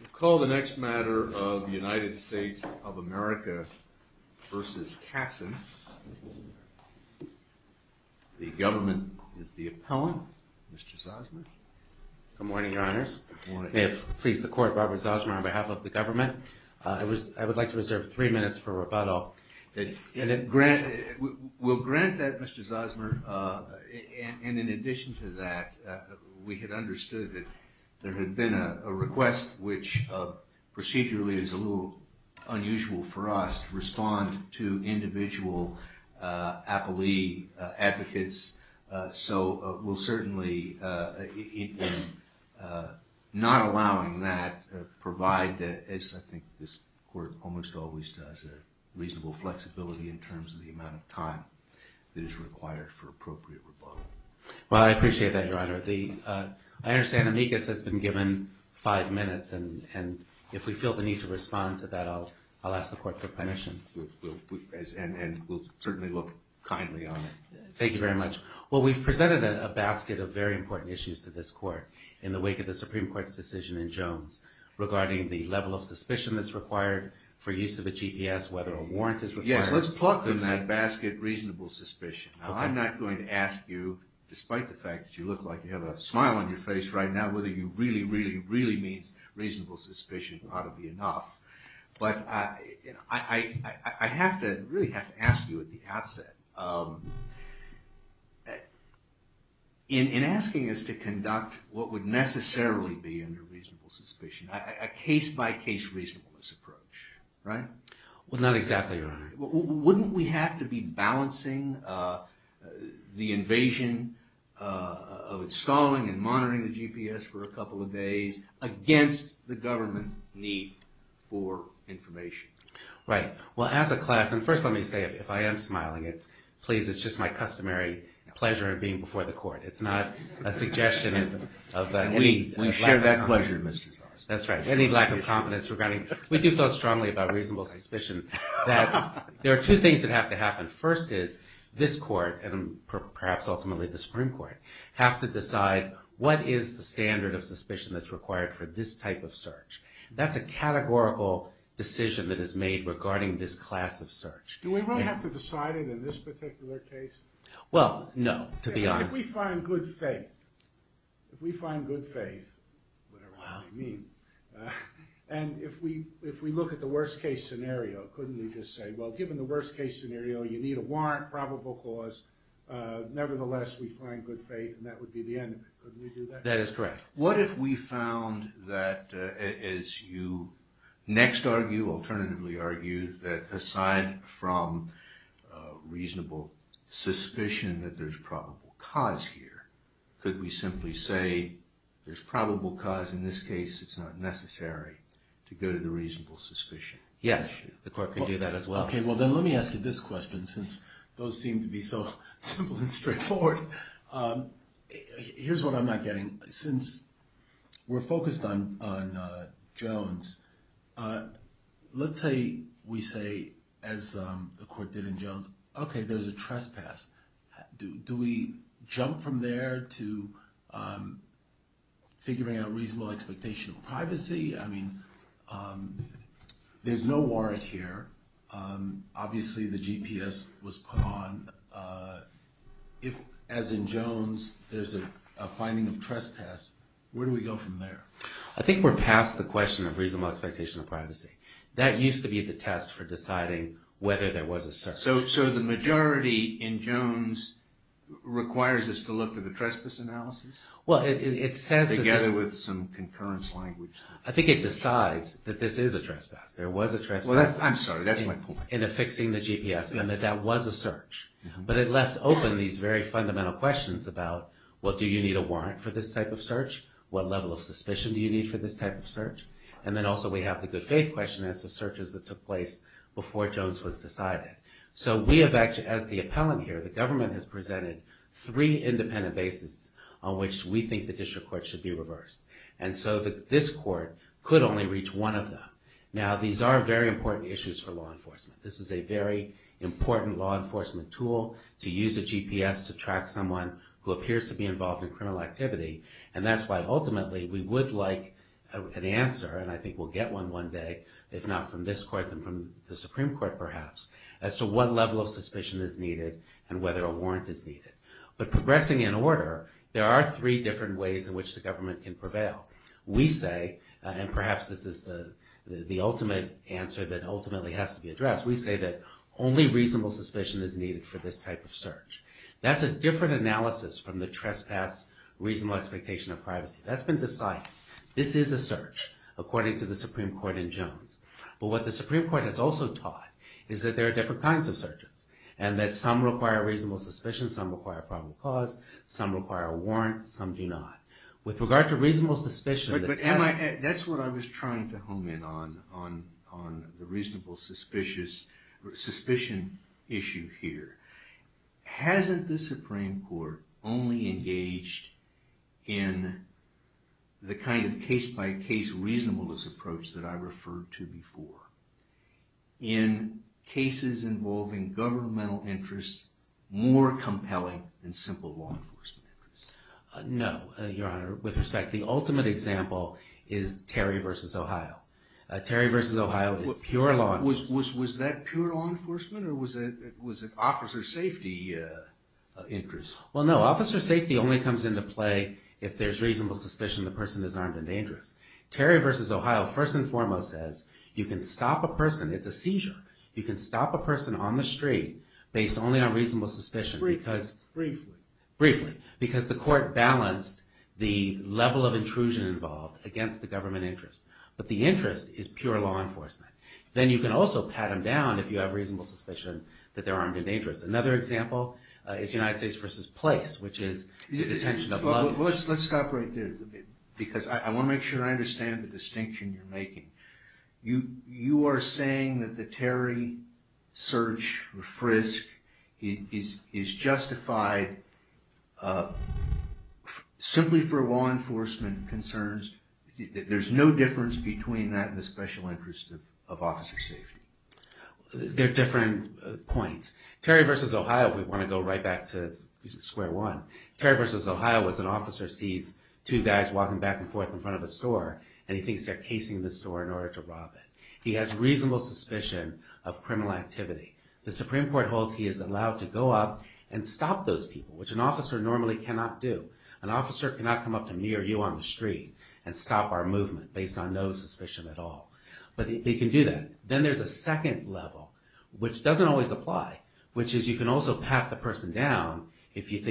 We'll call the next matter of the United States of America versus Katzin. The government is the appellant, Mr. Zosmer. Good morning, your honors. May it please the court, Robert Zosmer on behalf of the government. I would like to reserve three minutes for rebuttal. We'll grant that, Mr. Zosmer, and in addition to that, we had understood that there had been a request which procedurally is a little unusual for us to respond to individual appellee advocates, so we'll certainly, not allowing that, provide, as I think this court almost always does, a reasonable flexibility in terms of the amount of time that is required for appropriate rebuttal. Well, I appreciate that, your honor. I understand Amicus has been given five minutes, and if we feel the need to respond to that, I'll ask the court for permission. And we'll certainly look kindly on it. Thank you very much. Well, we've presented a basket of very important issues to this court in the wake of the Supreme Court's decision in Jones regarding the level of suspicion that's required for use of a GPS, whether a warrant is required. Yes, let's pluck from that basket reasonable suspicion. I'm not going to ask you, despite the fact that you look like you have a smile on your face right now, whether you really, really, really means reasonable suspicion ought to be enough. But I have to, really have to ask you at the outset, in asking us to conduct what would necessarily be under reasonable suspicion, a case-by-case reasonableness approach, right? Well, not exactly, your honor. Wouldn't we have to be balancing the invasion of installing and monitoring the GPS for a couple of days against the government need for information? Right. Well, as a class, and first let me say, if I am smiling, please, it's just my customary pleasure of being before the court. It's not a suggestion of that. We share that pleasure, Mr. Zarsky. That's right. Any lack of confidence regarding, we do so strongly about reasonable suspicion, that there are two things that have to happen. First is, this court, and perhaps ultimately the Supreme Court, have to decide what is the standard of suspicion that's required for this type of search. That's a categorical decision that is made regarding this class of search. Do we really have to decide it in this particular case? Well, no, to be honest. If we find good faith, if we find good faith, whatever you mean, and if we look at the worst case scenario, couldn't we just say, well, given the worst case scenario, you need a warrant, probable cause, nevertheless, we find good faith, and that would be the end of it. Couldn't we do that? That is correct. What if we found that, as you next argue, alternatively argue, that aside from reasonable suspicion that there's probable cause here, could we simply say, there's probable cause, in this case, it's not necessary to go to the reasonable suspicion? Yes, the court could do that as well. Okay, well then let me ask you this question, since those seem to be so simple and straightforward. Here's what I'm not getting. Since we're focused on Jones, let's say we say, as the court did in Jones, okay, there's a trespass, do we jump from there to figuring out reasonable expectation of privacy? I mean, there's no warrant here, obviously the GPS was put on, if, as in Jones, there's a finding of trespass, where do we go from there? I think we're past the question of reasonable expectation of privacy. That used to be the test for deciding whether there was a search. So the majority in Jones requires us to look at the trespass analysis, together with some concurrence language. I think it decides that this is a trespass, there was a trespass. I'm sorry, that's my point. In affixing the GPS, and that that was a search. But it left open these very fundamental questions about, well, do you need a warrant for this type of search? What level of suspicion do you need for this type of search? And then also we have the good faith question as to searches that took place before Jones was decided. So we have actually, as the appellant here, the government has presented three independent bases on which we think the district court should be reversed. And so this court could only reach one of them. Now these are very important issues for law enforcement. This is a very important law enforcement tool to use a GPS to track someone who appears to be involved in criminal activity. And that's why ultimately we would like an answer, and I think we'll get one one day, if not from this court, then from the Supreme Court perhaps, as to what level of suspicion is needed and whether a warrant is needed. But progressing in order, there are three different ways in which the government can prevail. We say, and perhaps this is the ultimate answer that ultimately has to be addressed, we say that only reasonable suspicion is needed for this type of search. That's a different analysis from the trespass reasonable expectation of privacy. That's been decided. This is a search, according to the Supreme Court in Jones. But what the Supreme Court has also taught is that there are different kinds of searches. And that some require reasonable suspicion, some require probable cause, some require a warrant, some do not. With regard to reasonable suspicion- But that's what I was trying to hone in on, on the reasonable suspicion issue here. Hasn't the Supreme Court only engaged in the kind of case-by-case reasonableness approach that I referred to before? In cases involving governmental interests more compelling than simple law enforcement interests? No, Your Honor, with respect, the ultimate example is Terry v. Ohio. Terry v. Ohio is pure law enforcement. Was that pure law enforcement or was it officer safety interest? Well, no, officer safety only comes into play if there's reasonable suspicion the person is armed and dangerous. Terry v. Ohio, first and foremost, says you can stop a person, it's a seizure, you can stop a person on the street based only on reasonable suspicion because- Briefly. Briefly. Because the court balanced the level of intrusion involved against the government interest. But the interest is pure law enforcement. Then you can also pat them down if you have reasonable suspicion that they're armed and dangerous. Another example is United States v. Place, which is the detention of- Let's stop right there, because I want to make sure I understand the distinction you're making. You are saying that the Terry search or frisk is justified simply for law enforcement concerns? There's no difference between that and the special interest of officer safety? They're different points. Terry v. Ohio, if we want to go right back to square one, Terry v. Ohio was an officer sees two guys walking back and forth in front of a store and he thinks they're casing the store in order to rob it. He has reasonable suspicion of criminal activity. The Supreme Court holds he is allowed to go up and stop those people, which an officer normally cannot do. An officer cannot come up to me or you on the street and stop our movement based on no suspicion at all. But they can do that. Then there's a second level, which doesn't always apply, which is you can also pat the person down if you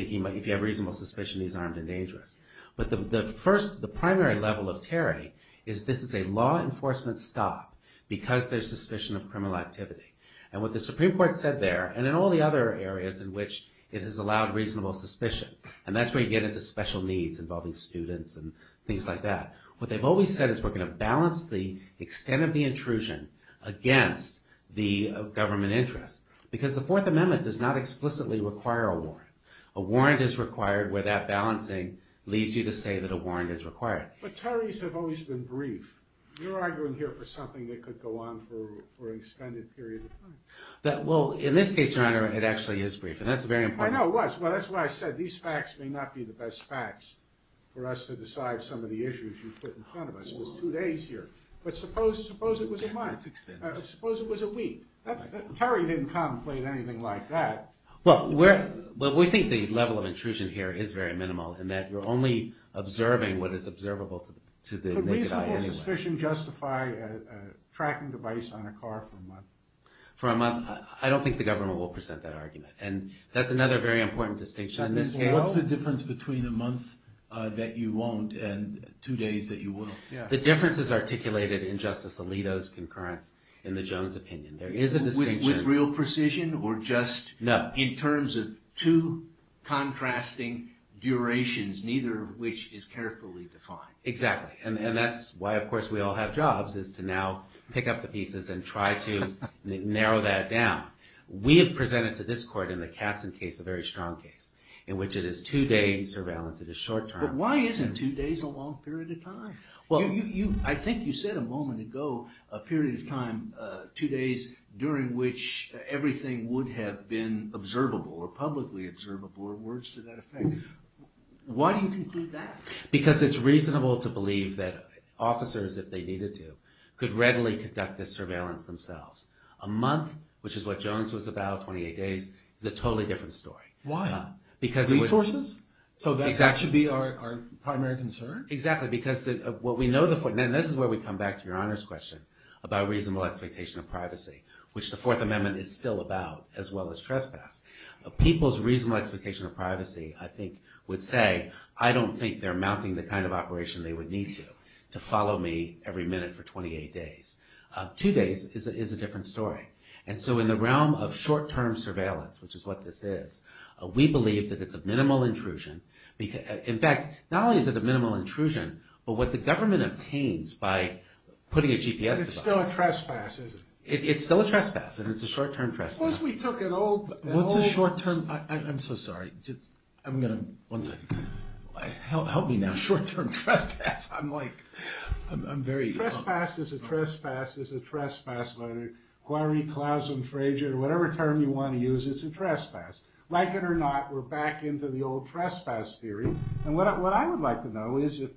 have reasonable suspicion he's armed and dangerous. But the primary level of Terry is this is a law enforcement stop because there's suspicion of criminal activity. And what the Supreme Court said there, and in all the other areas in which it has allowed reasonable suspicion, and that's where you get into special needs involving students and things like that. What they've always said is we're going to balance the extent of the intrusion against the government interest. Because the Fourth Amendment does not explicitly require a warrant. A warrant is required where that balancing leads you to say that a warrant is required. But Terry's have always been brief. You're arguing here for something that could go on for an extended period of time. Well, in this case, Your Honor, it actually is brief. And that's very important. I know it was. Well, that's why I said these facts may not be the best facts for us to decide some of the issues you put in front of us. It's two days here. But suppose it was a month. Suppose it was a week. Terry didn't contemplate anything like that. Well, we think the level of intrusion here is very minimal in that you're only observing what is observable to the naked eye anyway. Could reasonable suspicion justify a tracking device on a car for a month? For a month? I don't think the government will present that argument. And that's another very important distinction in this case. What's the difference between a month that you won't and two days that you will? The difference is articulated in Justice Alito's concurrence in the Jones opinion. There is a distinction. With real precision or just in terms of two contrasting durations, neither of which is carefully defined? Exactly. And that's why, of course, we all have jobs is to now pick up the pieces and try to narrow that down. We have presented to this court in the Katzen case, a very strong case, in which it is two-day surveillance. It is short-term. But why isn't two days a long period of time? I think you said a moment ago a period of time, two days, during which everything would have been observable or publicly observable or words to that effect. Why do you conclude that? Because it's reasonable to believe that officers, if they needed to, could readily conduct this surveillance themselves. A month, which is what Jones was about, 28 days, is a totally different story. Why? Resources? Exactly. So that should be our primary concern? Exactly. This is where we come back to Your Honor's question about reasonable expectation of privacy, which the Fourth Amendment is still about, as well as trespass. People's reasonable expectation of privacy, I think, would say, I don't think they're mounting the kind of operation they would need to, to follow me every minute for 28 days. Two days is a different story. And so in the realm of short-term surveillance, which is what this is, we believe that it's a minimal intrusion. In fact, not only is it a minimal intrusion, but what the government obtains by putting a GPS device. It's still a trespass, isn't it? It's still a trespass, and it's a short-term trespass. Suppose we took an old... What's a short-term? I'm so sorry. I'm going to, one second. Help me now. Short-term trespass. I'm like, I'm very... Short-term trespass is a trespass, whether it... Quarry, Klausen, Frazier, whatever term you want to use, it's a trespass. Like it or not, we're back into the old trespass theory. And what I would like to know is if,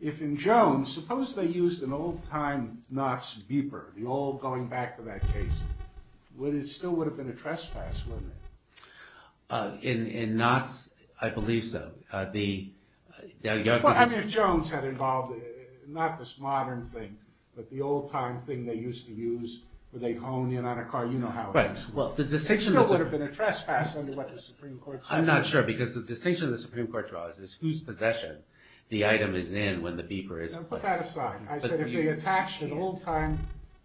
if in Jones, suppose they used an old-time Knott's beeper, the old going back to that case. Would it still would have been a trespass, wouldn't it? In, in Knott's, I believe so. The... I mean, if Jones had involved... Something they used to use when they honed in on a car, you know how it is. Right. Well, the distinction... It still would have been a trespass under what the Supreme Court said. I'm not sure, because the distinction the Supreme Court draws is whose possession the item is in when the beeper is placed. Now, put that aside. I said if they attached an old-time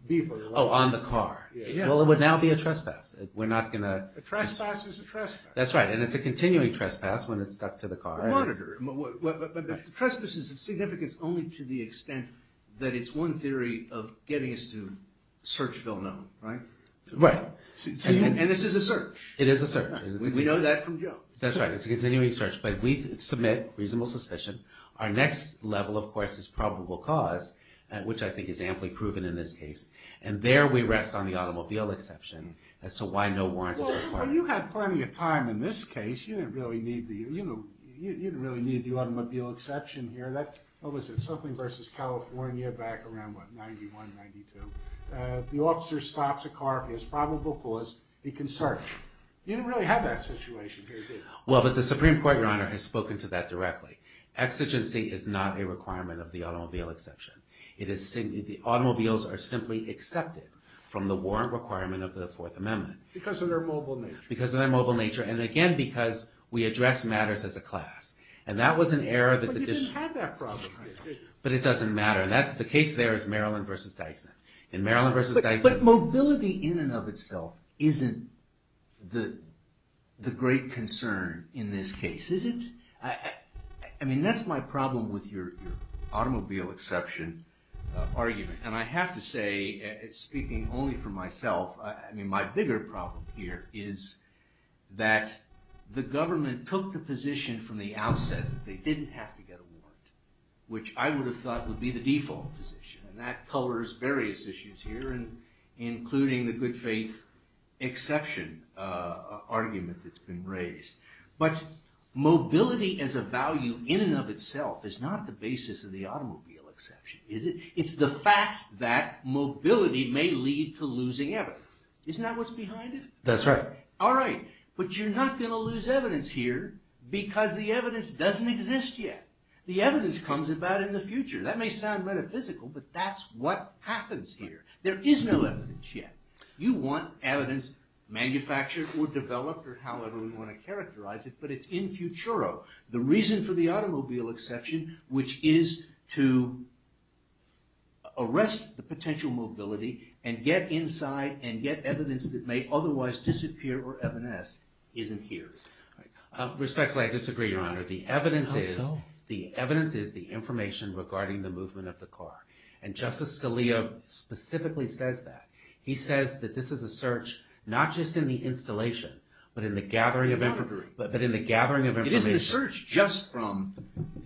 beeper... Oh, on the car. Yeah. Well, it would now be a trespass. We're not going to... A trespass is a trespass. That's right, and it's a continuing trespass when it's stuck to the car. But the trespass is of significance only to the extent that it's one theory of getting us to search Villanone, right? Right. And this is a search. It is a search. We know that from Joe. That's right, it's a continuing search, but we submit reasonable suspicion. Our next level, of course, is probable cause, which I think is amply proven in this case. And there we rest on the automobile exception as to why no warrant is required. Well, you had plenty of time in this case. You didn't really need the automobile exception here. What was it? Something versus California back around, what, 91, 92. The officer stops a car for his probable cause. He can search. You didn't really have that situation here, did you? Well, but the Supreme Court, Your Honor, has spoken to that directly. Exigency is not a requirement of the automobile exception. Automobiles are simply accepted from the warrant requirement of the Fourth Amendment. Because of their mobile nature. Because of their mobile nature. And again, because we address matters as a class. And that was an error that the district... But you didn't have that problem, right? But it doesn't matter. The case there is Maryland versus Dyson. In Maryland versus Dyson... But mobility in and of itself isn't the great concern in this case, is it? I mean, that's my problem with your automobile exception argument. And I have to say, speaking only for myself, I mean, my bigger problem here is that the government took the position from the outset that they didn't have to get a warrant. Which I would have thought would be the default position. And that colors various issues here, including the good faith exception argument that's been raised. But mobility as a value in and of itself is not the basis of the automobile exception, is it? It's the fact that mobility may lead to losing evidence. Isn't that what's behind it? That's right. All right. But you're not going to lose evidence here because the evidence doesn't exist yet. The evidence comes about in the future. That may sound metaphysical, but that's what happens here. There is no evidence yet. You want evidence manufactured or developed or however we want to characterize it, but it's in futuro. The reason for the automobile exception, which is to arrest the potential mobility and get inside and get evidence that may otherwise disappear or evanesce, isn't here. Respectfully, I disagree, Your Honor. How so? The evidence is the information regarding the movement of the car. And Justice Scalia specifically says that. He says that this is a search not just in the installation, but in the gathering of information. I do not agree. But in the gathering of information. It isn't a search just from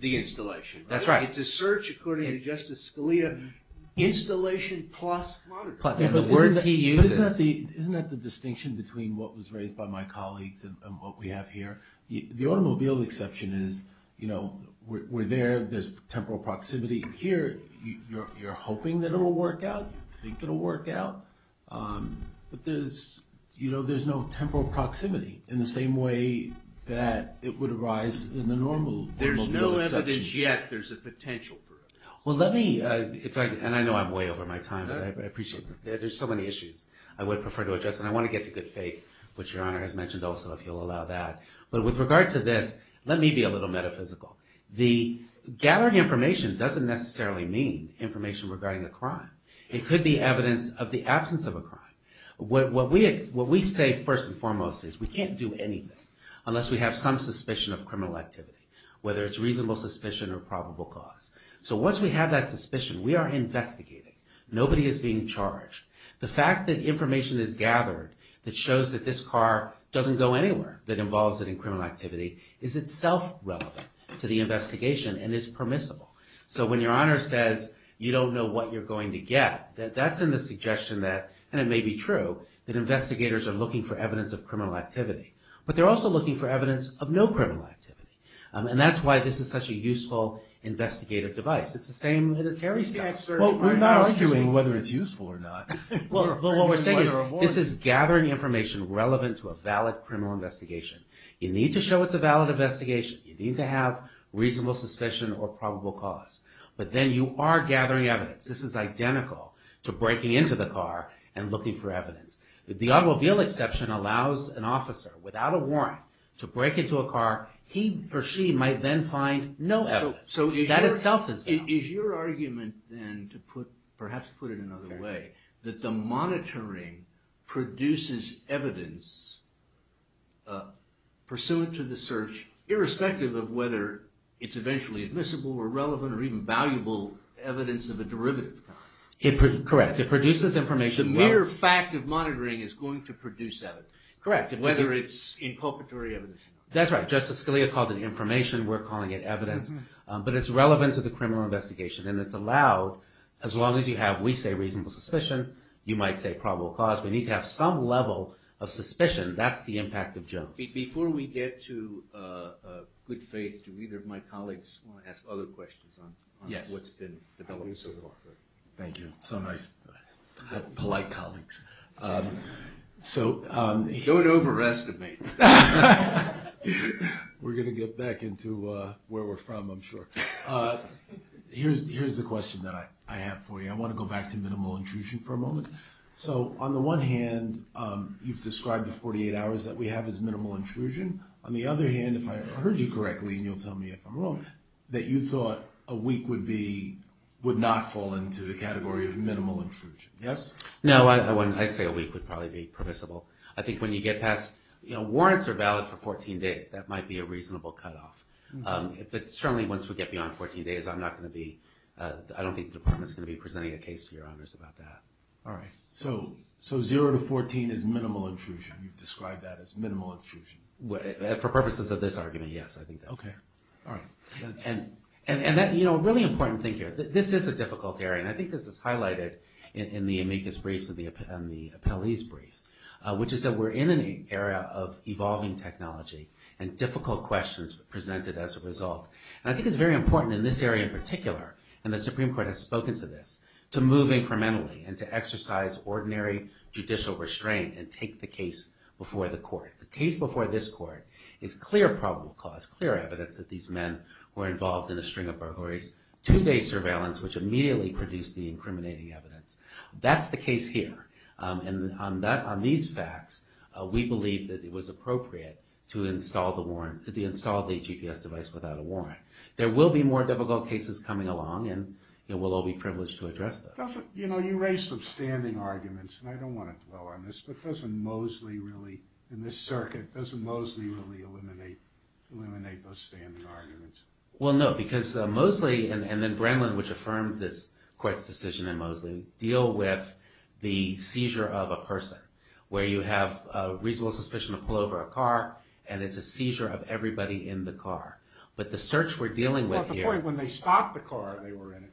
the installation. That's right. It's a search, according to Justice Scalia, installation plus monitor. But the words he uses. Isn't that the distinction between what was raised by my colleagues and what we have here? The automobile exception is, you know, we're there. There's temporal proximity. Here, you're hoping that it'll work out. You think it'll work out. But there's no temporal proximity in the same way that it would arise in the normal automobile exception. There's no evidence yet there's a potential for it. Well, let me, and I know I'm way over my time, but I appreciate that. There's so many issues I would prefer to address. And I want to get to good faith, which Your Honor has mentioned also, if you'll allow that. But with regard to this, let me be a little metaphysical. The gathering information doesn't necessarily mean information regarding a crime. It could be evidence of the absence of a crime. What we say first and foremost is we can't do anything unless we have some suspicion of criminal activity, whether it's reasonable suspicion or probable cause. So once we have that suspicion, we are investigating. Nobody is being charged. The fact that information is gathered that shows that this car doesn't go anywhere, that involves it in criminal activity, is itself relevant to the investigation and is permissible. So when Your Honor says you don't know what you're going to get, that's in the suggestion that, and it may be true, that investigators are looking for evidence of criminal activity. But they're also looking for evidence of no criminal activity. And that's why this is such a useful investigative device. It's the same with the Terry stuff. Well, we're not arguing whether it's useful or not. But what we're saying is this is gathering information relevant to a valid criminal investigation. You need to show it's a valid investigation. You need to have reasonable suspicion or probable cause. But then you are gathering evidence. This is identical to breaking into the car and looking for evidence. The automobile exception allows an officer without a warrant to break into a car. He or she might then find no evidence. That itself is evidence. Now, is your argument then, to perhaps put it another way, that the monitoring produces evidence pursuant to the search, irrespective of whether it's eventually admissible or relevant or even valuable, evidence of a derivative kind? Correct. It produces information. The mere fact of monitoring is going to produce evidence. Correct. Whether it's inculpatory evidence. That's right. Justice Scalia called it information. We're calling it evidence. But it's relevant to the criminal investigation, and it's allowed as long as you have, we say, reasonable suspicion. You might say probable cause. We need to have some level of suspicion. That's the impact of Jones. Before we get to good faith, do either of my colleagues want to ask other questions on what's been developed so far? Yes. Thank you. So nice. Polite colleagues. Don't overestimate. We're going to get back into where we're from, I'm sure. Here's the question that I have for you. I want to go back to minimal intrusion for a moment. So on the one hand, you've described the 48 hours that we have as minimal intrusion. On the other hand, if I heard you correctly, and you'll tell me if I'm wrong, that you thought a week would not fall into the category of minimal intrusion. Yes? No, I wouldn't. I'd say a week would probably be permissible. I think when you get past, you know, warrants are valid for 14 days. That might be a reasonable cutoff. But certainly once we get beyond 14 days, I'm not going to be, I don't think the department is going to be presenting a case to your honors about that. All right. So zero to 14 is minimal intrusion. You've described that as minimal intrusion. For purposes of this argument, yes. I think that's fair. Okay. All right. And that, you know, a really important thing here. This is a difficult area, and I think this is highlighted in the amicus briefs and the appellee's briefs. Which is that we're in an area of evolving technology, and difficult questions presented as a result. And I think it's very important in this area in particular, and the Supreme Court has spoken to this, to move incrementally and to exercise ordinary judicial restraint and take the case before the court. The case before this court is clear probable cause, clear evidence that these men were involved in a string of burglaries, two-day surveillance, which immediately produced the incriminating evidence. That's the case here. And on these facts, we believe that it was appropriate to install the warrant, to install the GPS device without a warrant. There will be more difficult cases coming along, and we'll all be privileged to address those. You know, you raised some standing arguments, and I don't want to dwell on this, but doesn't Moseley really, in this circuit, doesn't Moseley really eliminate those standing arguments? Well, no, because Moseley and then Brennan, which affirmed this court's decision in Moseley, deal with the seizure of a person, where you have a reasonable suspicion to pull over a car, and it's a seizure of everybody in the car. But the search we're dealing with here— Well, at the point when they stopped the car, they were in it.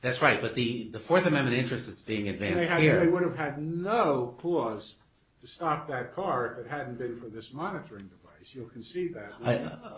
That's right, but the Fourth Amendment interest is being advanced here. They would have had no clause to stop that car if it hadn't been for this monitoring device. You'll concede that.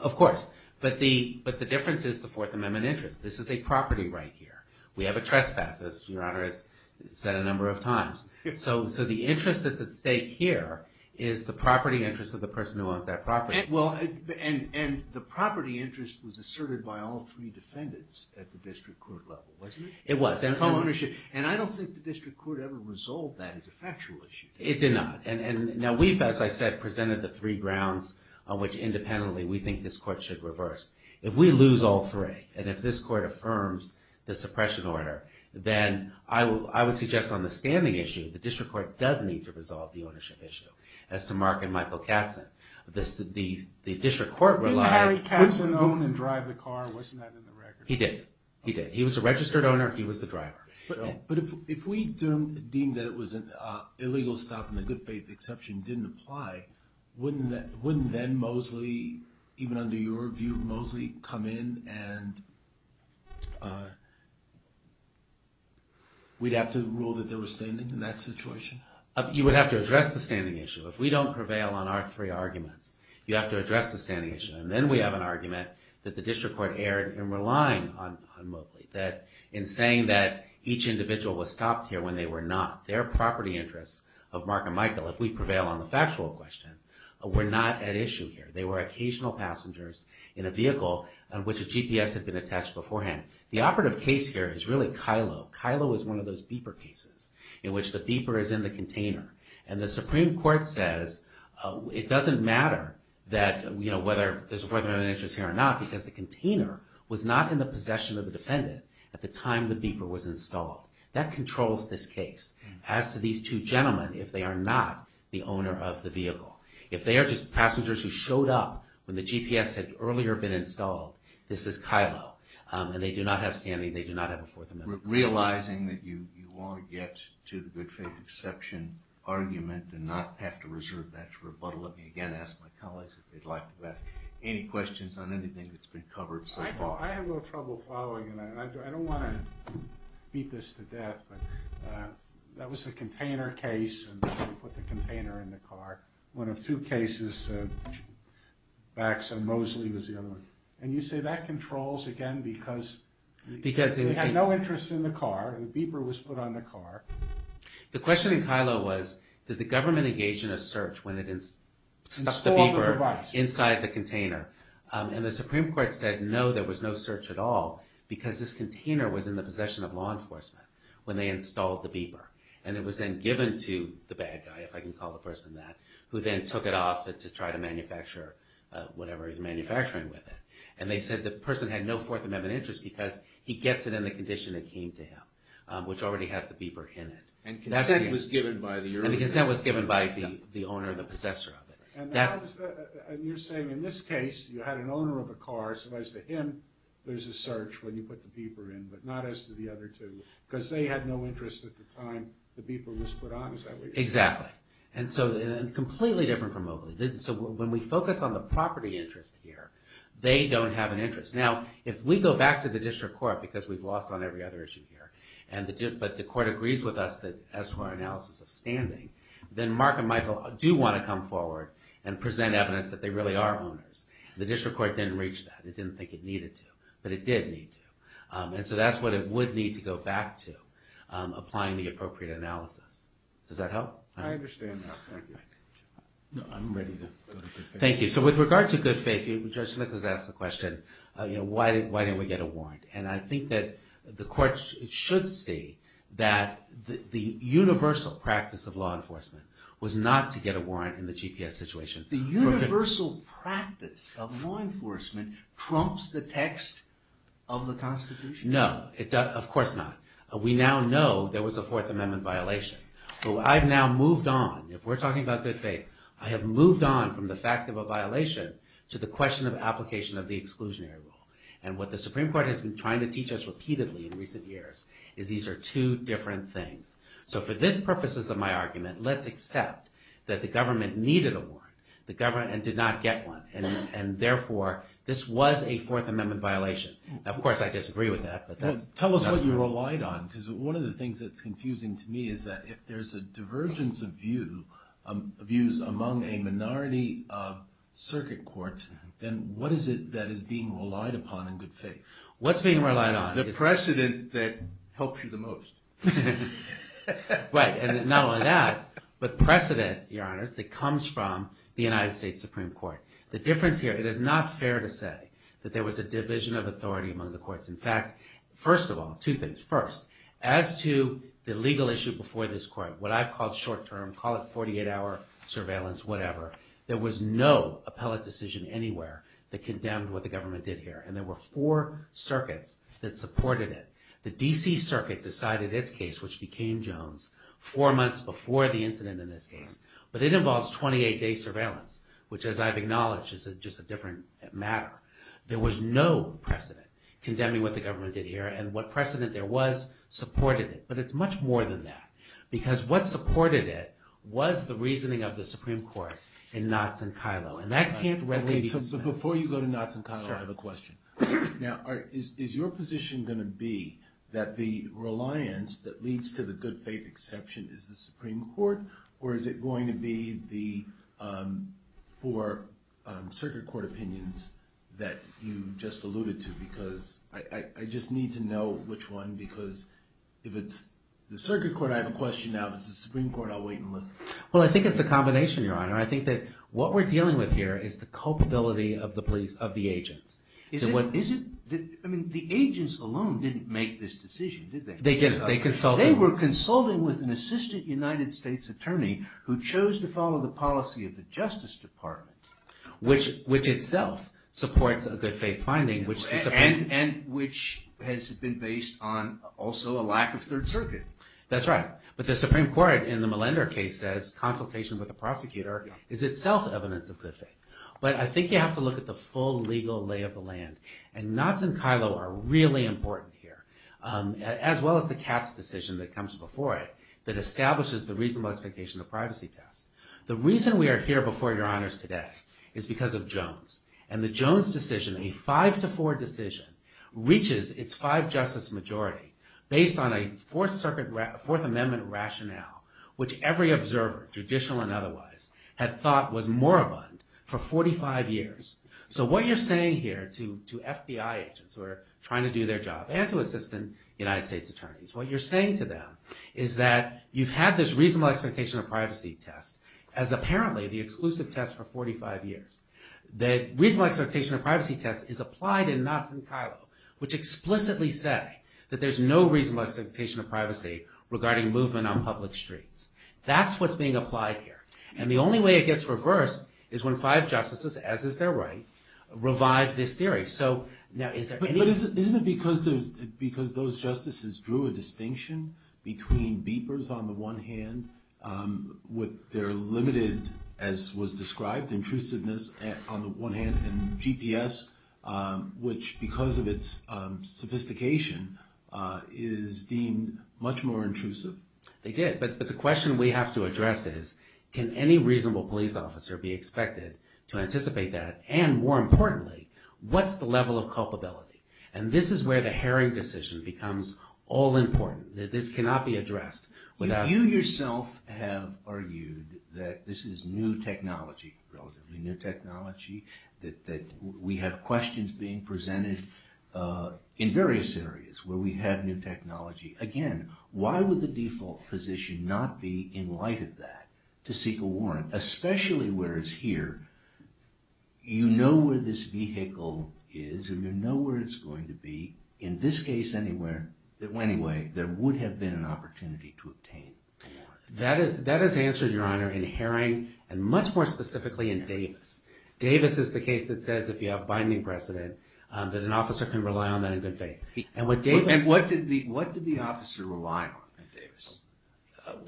Of course, but the difference is the Fourth Amendment interest. This is a property right here. We have a trespass, as Your Honor has said a number of times. So the interest that's at stake here is the property interest of the person who owns that property. And the property interest was asserted by all three defendants at the district court level, wasn't it? It was. And I don't think the district court ever resolved that as a factual issue. It did not. Now, we've, as I said, presented the three grounds on which, independently, we think this court should reverse. If we lose all three, and if this court affirms the suppression order, then I would suggest on the standing issue the district court does need to resolve the ownership issue as to Mark and Michael Katzen. The district court relied... Didn't Harry Katzen own and drive the car? Wasn't that in the record? He did. He did. He was a registered owner. He was the driver. But if we deem that it was an illegal stop and the good faith exception didn't apply, wouldn't then Mosley, even under your view, Mosley come in and we'd have to rule that they were standing in that situation? You would have to address the standing issue. If we don't prevail on our three arguments, you have to address the standing issue. And then we have an argument that the district court erred in relying on Mosley, that in saying that each individual was stopped here when they were not, their property interests of Mark and Michael, if we prevail on the factual question, were not at issue here. They were occasional passengers in a vehicle on which a GPS had been attached beforehand. The operative case here is really Kylo. Kylo is one of those beeper cases in which the beeper is in the container. And the Supreme Court says it doesn't matter whether there's an interest here or not because the container was not in the possession of the defendant at the time the beeper was installed. That controls this case. of the vehicle, if they are just passengers who showed up when the GPS had earlier been installed, this is Kylo. And they do not have standing, they do not have a Fourth Amendment. Realizing that you want to get to the good faith exception argument and not have to reserve that for rebuttal, let me again ask my colleagues if they'd like to ask any questions on anything that's been covered so far. I have a little trouble following, and I don't want to beat this to death, but that was a container case, and they put the container in the car. One of two cases, Bax and Mosley was the other one. And you say that controls, again, because they had no interest in the car, the beeper was put on the car. The question in Kylo was, did the government engage in a search when it stuck the beeper inside the container? And the Supreme Court said, no, there was no search at all because this container was in the possession of law enforcement when they installed the beeper. And it was then given to the bad guy, if I can call the person that, who then took it off to try to manufacture whatever he's manufacturing with it. And they said the person had no Fourth Amendment interest because he gets it in the condition it came to him, which already had the beeper in it. And consent was given by the owner. And the consent was given by the owner, the possessor of it. And you're saying in this case, you had an owner of a car, so as to him, there's a search when you put the beeper in, but not as to the other two, because they had no interest at the time that the beeper was put on, is that what you're saying? Exactly. And it's completely different from Oakley. So when we focus on the property interest here, they don't have an interest. Now, if we go back to the district court, because we've lost on every other issue here, but the court agrees with us as to our analysis of standing, then Mark and Michael do want to come forward and present evidence that they really are owners. The district court didn't reach that. It didn't think it needed to, but it did need to. And so that's what it would need to go back to, applying the appropriate analysis. Does that help? I understand that. Thank you. So with regard to good faith, Judge Snickers asked the question, why didn't we get a warrant? And I think that the court should see that the universal practice of law enforcement was not to get a warrant in the GPS situation. The universal practice of law enforcement trumps the text of the Constitution? No, of course not. We now know there was a Fourth Amendment violation. So I've now moved on. If we're talking about good faith, I have moved on from the fact of a violation to the question of application of the exclusionary rule. And what the Supreme Court has been trying to teach us repeatedly in recent years is these are two different things. So for this purposes of my argument, let's accept that the government needed a warrant and did not get one. And therefore, this was a Fourth Amendment violation. Of course, I disagree with that. Tell us what you relied on, because one of the things that's confusing to me is that if there's a divergence of views among a minority of circuit courts, then what is it that is being relied upon in good faith? What's being relied on? The precedent that helps you the most. Right, and not only that, but precedent, Your Honors, that comes from the United States Supreme Court. The difference here, it is not fair to say that there was a division of authority among the courts. In fact, first of all, two things. First, as to the legal issue before this court, what I've called short-term, call it 48-hour surveillance, whatever, there was no appellate decision anywhere that condemned what the government did here. And there were four circuits that supported it. The D.C. Circuit decided its case, which became Jones, four months before the incident in this case. But it involves 28-day surveillance, which, as I've acknowledged, is just a different matter. There was no precedent condemning what the government did here, and what precedent there was supported it. But it's much more than that, because what supported it was the reasoning of the Supreme Court in Knotts and Kyllo. And that can't readily be dismissed. Okay, so before you go to Knotts and Kyllo, I have a question. Now, is your position going to be that the reliance that leads to the good faith exception is the Supreme Court, or is it going to be for circuit court opinions that you just alluded to? Because I just need to know which one, because if it's the circuit court, I have a question now. If it's the Supreme Court, I'll wait and listen. Well, I think it's a combination, Your Honor. I think that what we're dealing with here is the culpability of the police, of the agents. Is it? Is it? I mean, the agents alone didn't make this decision, did they? They just, they consulted... They were consulting with an assistant United States attorney who chose to follow the policy of the Justice Department. Which itself supports a good faith finding, which the Supreme... And which has been based on also a lack of Third Circuit. That's right. But the Supreme Court, in the Millender case, says consultation with the prosecutor is itself evidence of good faith. But I think you have to look at the full legal lay of the land, and Knotts and Kyllo are really important here, as well as the Katz decision that comes before it that establishes the reasonable expectation of privacy test. The reason we are here before Your Honors today is because of Jones. And the Jones decision, a five-to-four decision, reaches its five-justice majority based on a Fourth Circuit... Fourth Amendment rationale, which every observer, judicial and otherwise, had thought was moribund for 45 years. So what you're saying here to FBI agents who are trying to do their job, and to assistant United States attorneys, what you're saying to them is that you've had this reasonable expectation of privacy test as apparently the exclusive test for 45 years. The reasonable expectation of privacy test is applied in Knotts and Kyllo, which explicitly say that there's no reasonable expectation of privacy regarding movement on public streets. That's what's being applied here. And the only way it gets reversed is when five justices, as is their right, revive this theory. But isn't it because those justices drew a distinction between beepers on the one hand, with their limited, as was described, intrusiveness on the one hand, and GPS, which, because of its sophistication, is deemed much more intrusive? They did, but the question we have to address is, can any reasonable police officer be expected to anticipate that? And more importantly, what's the level of culpability? And this is where the Herring decision becomes all important. This cannot be addressed without... You yourself have argued that this is new technology, relatively new technology, that we have questions being presented in various areas where we have new technology. Again, why would the default position not be in light of that, to seek a warrant? Especially where it's here. You know where this vehicle is, and you know where it's going to be. In this case, anywhere, anyway, there would have been an opportunity to obtain a warrant. That is answered, Your Honor, in Herring, and much more specifically in Davis. Davis is the case that says, if you have binding precedent, that an officer can rely on that in good faith. And what did the officer rely on in Davis?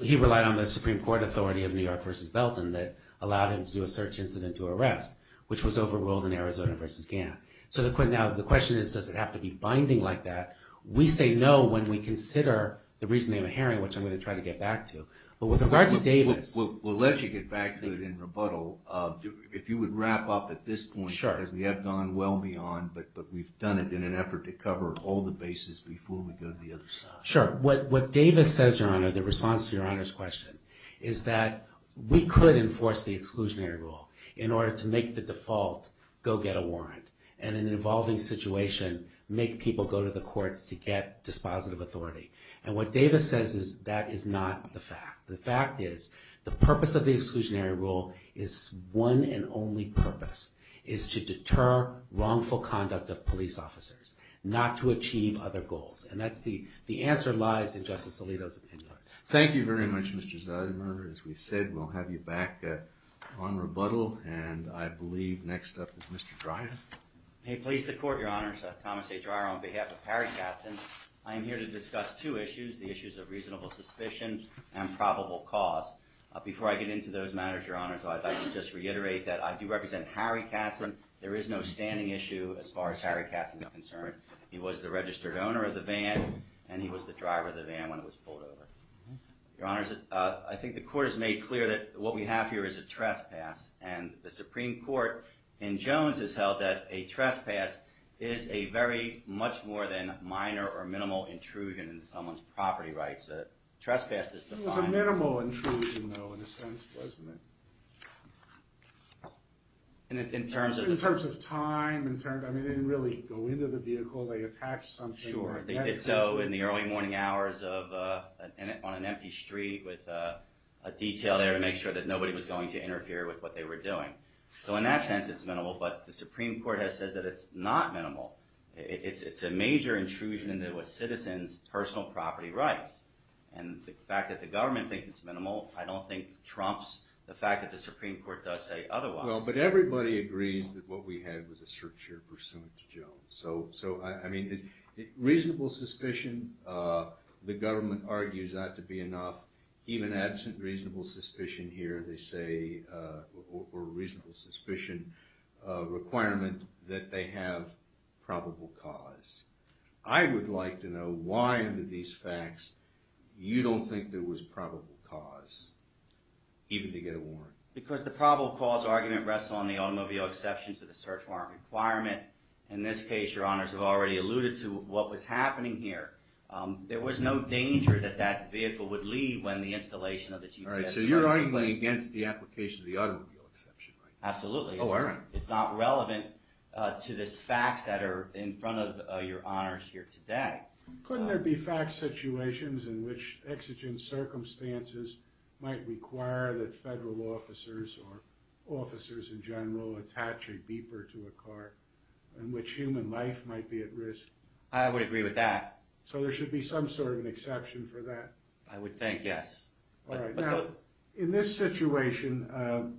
He relied on the Supreme Court authority of New York v. Belton that allowed him to do a search incident to arrest, which was overruled in Arizona v. Gant. So the question is, does it have to be binding like that? We say no when we consider the reasoning of Herring, which I'm going to try to get back to. But with regard to Davis... We'll let you get back to it in rebuttal. If you would wrap up at this point, because we have gone well beyond, but we've done it in an effort to cover all the bases before we go to the other side. Sure. What Davis says, Your Honor, the response to Your Honor's question, is that we could enforce the exclusionary rule in order to make the default go get a warrant, and in an evolving situation, make people go to the courts to get dispositive authority. And what Davis says is that is not the fact. The fact is, the purpose of the exclusionary rule is one and only purpose. It is to deter wrongful conduct of police officers, not to achieve other goals. And that's the answer lies in Justice Alito's opinion. Thank you very much, Mr. Zidemer. As we said, we'll have you back on rebuttal. And I believe next up is Mr. Dreyer. Hey, please, the Court, Your Honors. Thomas A. Dreyer, on behalf of Harry Katzen. I am here to discuss two issues, the issues of reasonable suspicion and probable cause. Before I get into those matters, Your Honors, I'd like to just reiterate that I do represent Harry Katzen. There is no standing issue as far as Harry Katzen is concerned. He was the registered owner of the van, and he was the driver of the van when it was pulled over. Your Honors, I think the Court has made clear that what we have here is a trespass. And the Supreme Court in Jones has held that a trespass is a very much more than minor or minimal intrusion in someone's property rights. A trespass is defined... It was a minimal intrusion, though, in a sense, wasn't it? In terms of... In terms of time, in terms of... I mean, they didn't really go into the vehicle. They attached something... Sure, they did so in the early morning hours on an empty street with a detail there to make sure that nobody was going to interfere with what they were doing. So in that sense, it's minimal. But the Supreme Court has said that it's not minimal. It's a major intrusion into a citizen's personal property rights. And the fact that the government thinks it's minimal, I don't think trumps the fact that the Supreme Court does say otherwise. Well, but everybody agrees that what we had was a search here pursuant to Jones. So, I mean, reasonable suspicion. The government argues that to be enough. Even absent reasonable suspicion here, they say, or reasonable suspicion requirement that they have probable cause. I would like to know why, under these facts, you don't think there was probable cause even to get a warrant. Because the probable cause argument rests on the automobile exception to the search warrant requirement. In this case, Your Honors have already alluded to what was happening here. There was no danger that that vehicle would leave when the installation of the GPS... Alright, so you're arguing against the application of the automobile exception, right? Absolutely. Oh, alright. It's not relevant to this facts that are in front of Your Honors here today. Couldn't there be fact situations in which exigent circumstances might require that federal officers or officers in general attach a beeper to a car in which human life might be at risk? I would agree with that. So there should be some sort of an exception for that? I would think, yes. In this situation,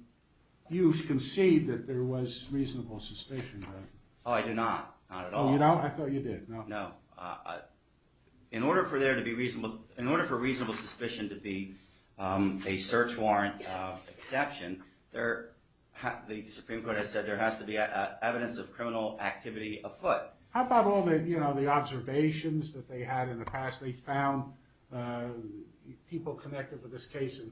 you concede that there was reasonable suspicion. Oh, I do not. Oh, you don't? I thought you did. In order for reasonable suspicion to be a search warrant exception, the Supreme Court has said there has to be evidence of criminal activity afoot. How about all the observations that they had in the past? They found people connected with this case in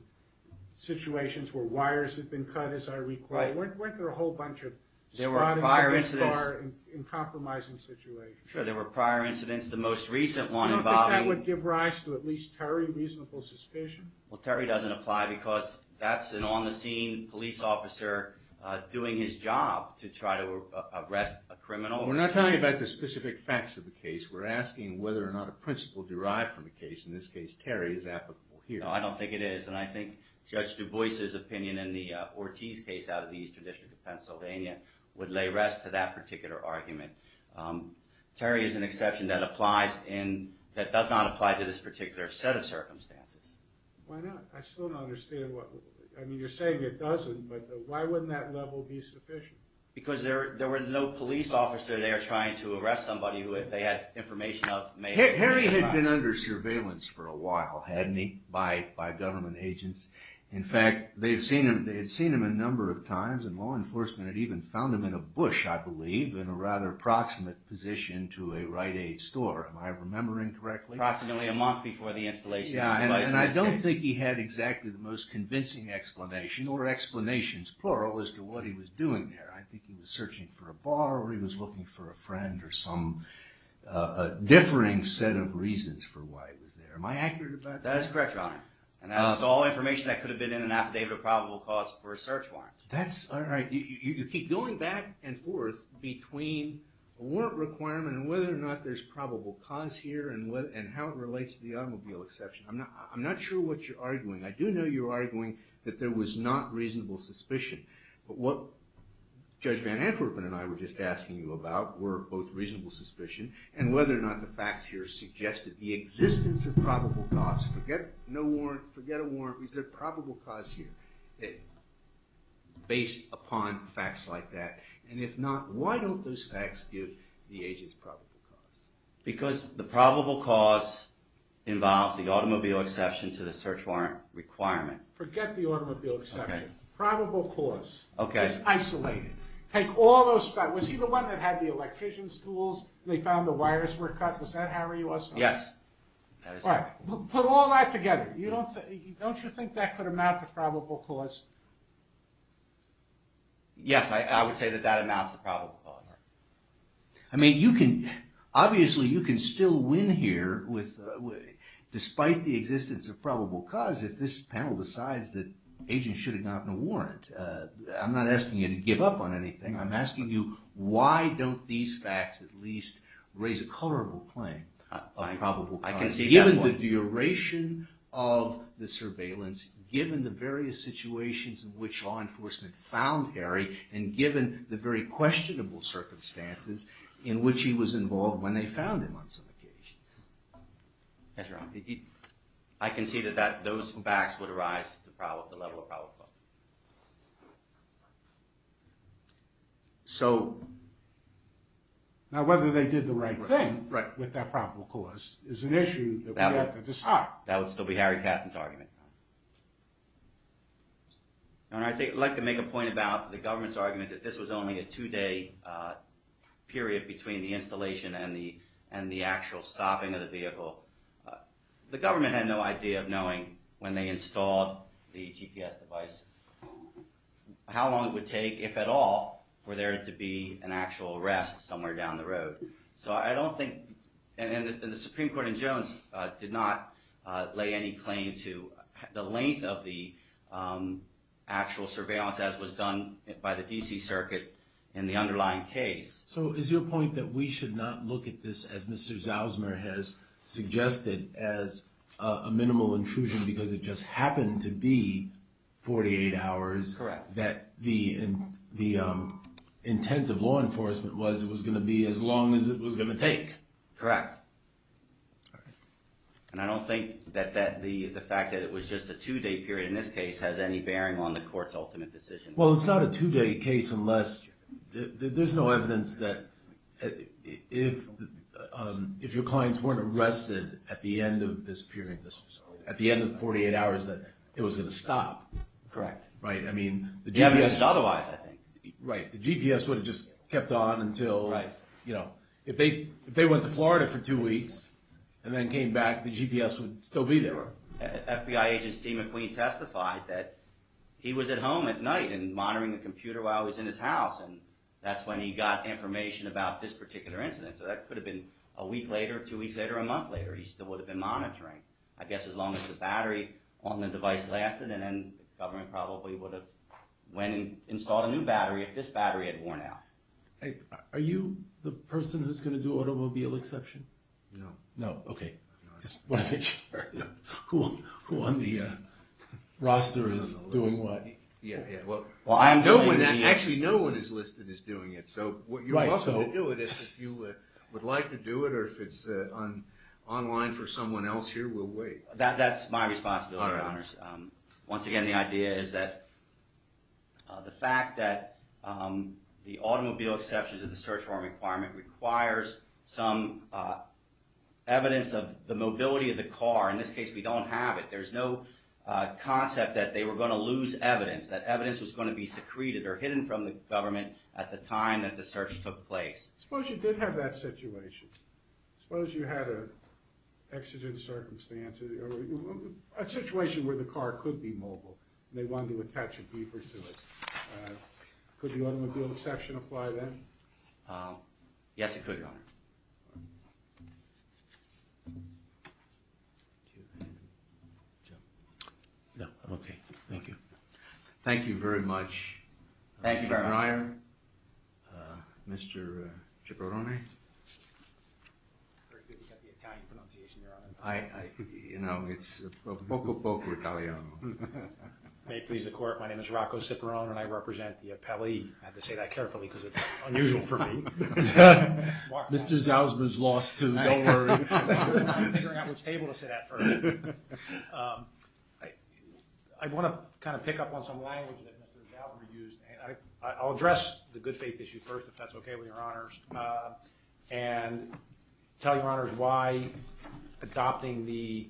situations where wires had been cut, as I recall. Weren't there a whole bunch of spottings in compromising situations? Sure, there were prior incidents. The most recent one involving... You don't think that would give rise to at least, Terry, reasonable suspicion? Well, Terry doesn't apply because that's an on-the-scene police officer doing his job to try to arrest a criminal. We're not talking about the specific facts of the case. We're asking whether or not a principle derived from the case. In this case, Terry is applicable here. No, I don't think it is. And I think Judge Du Bois' opinion in the Ortiz case out of the Eastern District of Pennsylvania would lay rest to that particular argument. Terry is an exception that applies in... that does not apply to this particular set of circumstances. Why not? I still don't understand what... I mean, you're saying it doesn't, but why wouldn't that level be sufficient? Because there was no police officer there trying to arrest somebody who they had information of. Harry had been under surveillance for a while, hadn't he? By government agents. In fact, they had seen him a number of times, and law enforcement had even found him in a bush, I believe, in a rather proximate position to a Rite Aid store. Am I remembering correctly? Approximately a month before the installation. And I don't think he had exactly the most convincing explanation, or explanations, plural, as to what he was doing there. I think he was searching for a bar, or he was looking for a friend, or some differing set of reasons for why he was there. Am I accurate about that? That is correct, Your Honor. And that was all information that could have been in an affidavit of probable cause for a search warrant. You keep going back and forth between a warrant requirement and whether or not there's probable cause here, and how it relates to the automobile exception. I'm not sure what you're saying, that there was not reasonable suspicion. But what Judge Van Antwerpen and I were just asking you about were both reasonable suspicion, and whether or not the facts here suggested the existence of probable cause, forget no warrant, forget a warrant, is there probable cause here? Based upon facts like that, and if not, why don't those facts give the agents probable cause? Because the probable cause involves the automobile exception to the search warrant requirement. Forget the automobile exception. Probable cause. It's isolated. Was he the one that had the electrician's tools, and they found the wires were cut? Is that how he was? Yes. Put all that together. Don't you think that could amount to probable cause? Yes, I would say that that amounts to probable cause. I mean, you can obviously, you can still win here despite the existence of probable cause if this panel decides that agents should have gotten a warrant. I'm not asking you to give up on anything. I'm asking you why don't these facts at least raise a colorable claim of probable cause, given the duration of the surveillance, given the various situations in which law enforcement found Harry, and given the very questionable circumstances in which he was involved when they Yes, Your Honor. I concede that those facts would arise to the level of probable cause. So, now whether they did the right thing with that probable cause is an issue that we have to decide. That would still be Harry Katzen's argument. I'd like to make a point about the government's argument that this was only a two-day period between the installation and the actual stopping of the vehicle. The government had no idea of knowing when they installed the GPS device how long it would take, if at all, for there to be an actual arrest somewhere down the road. So I don't think, and the Supreme Court in Jones did not lay any claim to the length of the actual surveillance as was done by the D.C. Circuit in the underlying case. So is your point that we should not look at this as Mr. Zausmer has suggested as a minimal intrusion because it just happened to be 48 hours that the intent of law enforcement was it was going to be as long as it was going to take? Correct. And I don't think that the fact that it was just a two-day period in this case has any bearing on the Court's ultimate decision. Well, it's not a two-day case unless there's no evidence that if your clients weren't arrested at the end of this period, at the end of 48 hours, that it was going to stop. Correct. I mean, the GPS would have just kept on until, you know, if they went to Florida for two weeks and then came back, the GPS would still be there. FBI agent Steve McQueen testified that he was at home at night and monitoring the computer while he was in his house and that's when he got information about this particular incident. So that could have been a week later, two weeks later, a month later. He still would have been monitoring, I guess, as long as the battery on the device lasted and then the government probably would have went and installed a new battery if this battery had worn out. Are you the person who's going to do automobile exception? No. No. Okay. Just wanted to make sure. Who on the roster is doing what? Actually, no one is listed as doing it, so you're welcome to do it. If you would like to do it or if it's online for someone else here, we'll wait. That's my responsibility, Your Honors. Once again, the idea is that the fact that the automobile exceptions of the search warrant requirement requires some evidence of the mobility of the car. In this case, we don't have it. There's no concept that they were going to lose evidence, that evidence was going to be secreted or hidden from the government at the time that the search took place. I suppose you did have that situation. I suppose you had an exigent circumstance or a situation where the car could be mobile and they wanted to attach a keeper to it. Could the automobile exception apply then? Yes, it could, Your Honor. Thank you. Okay, thank you. Thank you very much. Thank you very much. Mr. Ciparone. You know, it's poco poco Italiano. May it please the Court, my name is Rocco Ciparone and I represent the I have to say that carefully because it's unusual for me. Mr. Zalzman's lost too, don't worry. I'm figuring out which table to sit at first. I want to pick up on some language that Mr. Zalzman used. I'll address the good faith issue first, if that's okay with Your Honors. And tell Your Honors why adopting the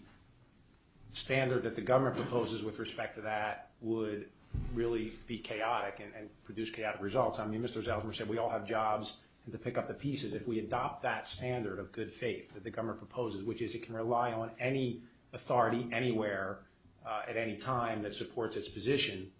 standard that the government proposes with respect to that would really be chaotic and produce chaotic results. I mean, Mr. Zalzman said we all have jobs to pick up the pieces. If we adopt that standard of good faith that the government proposes, which is it can rely on any authority anywhere at any time that supports its position,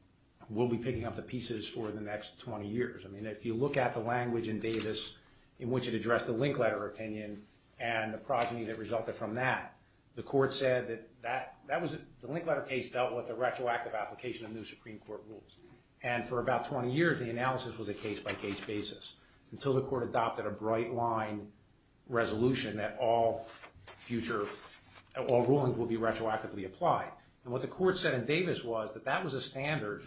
we'll be picking up the pieces for the next 20 years. If you look at the language in Davis in which it addressed the link letter opinion and the progeny that resulted from that, the Court said that the link letter case dealt with a retroactive application of new Supreme Court rules. And for about 20 years the analysis was a case-by-case basis until the Court adopted a bright line resolution that all future all rulings will be retroactively applied. And what the Court said in Davis was that that was a standard,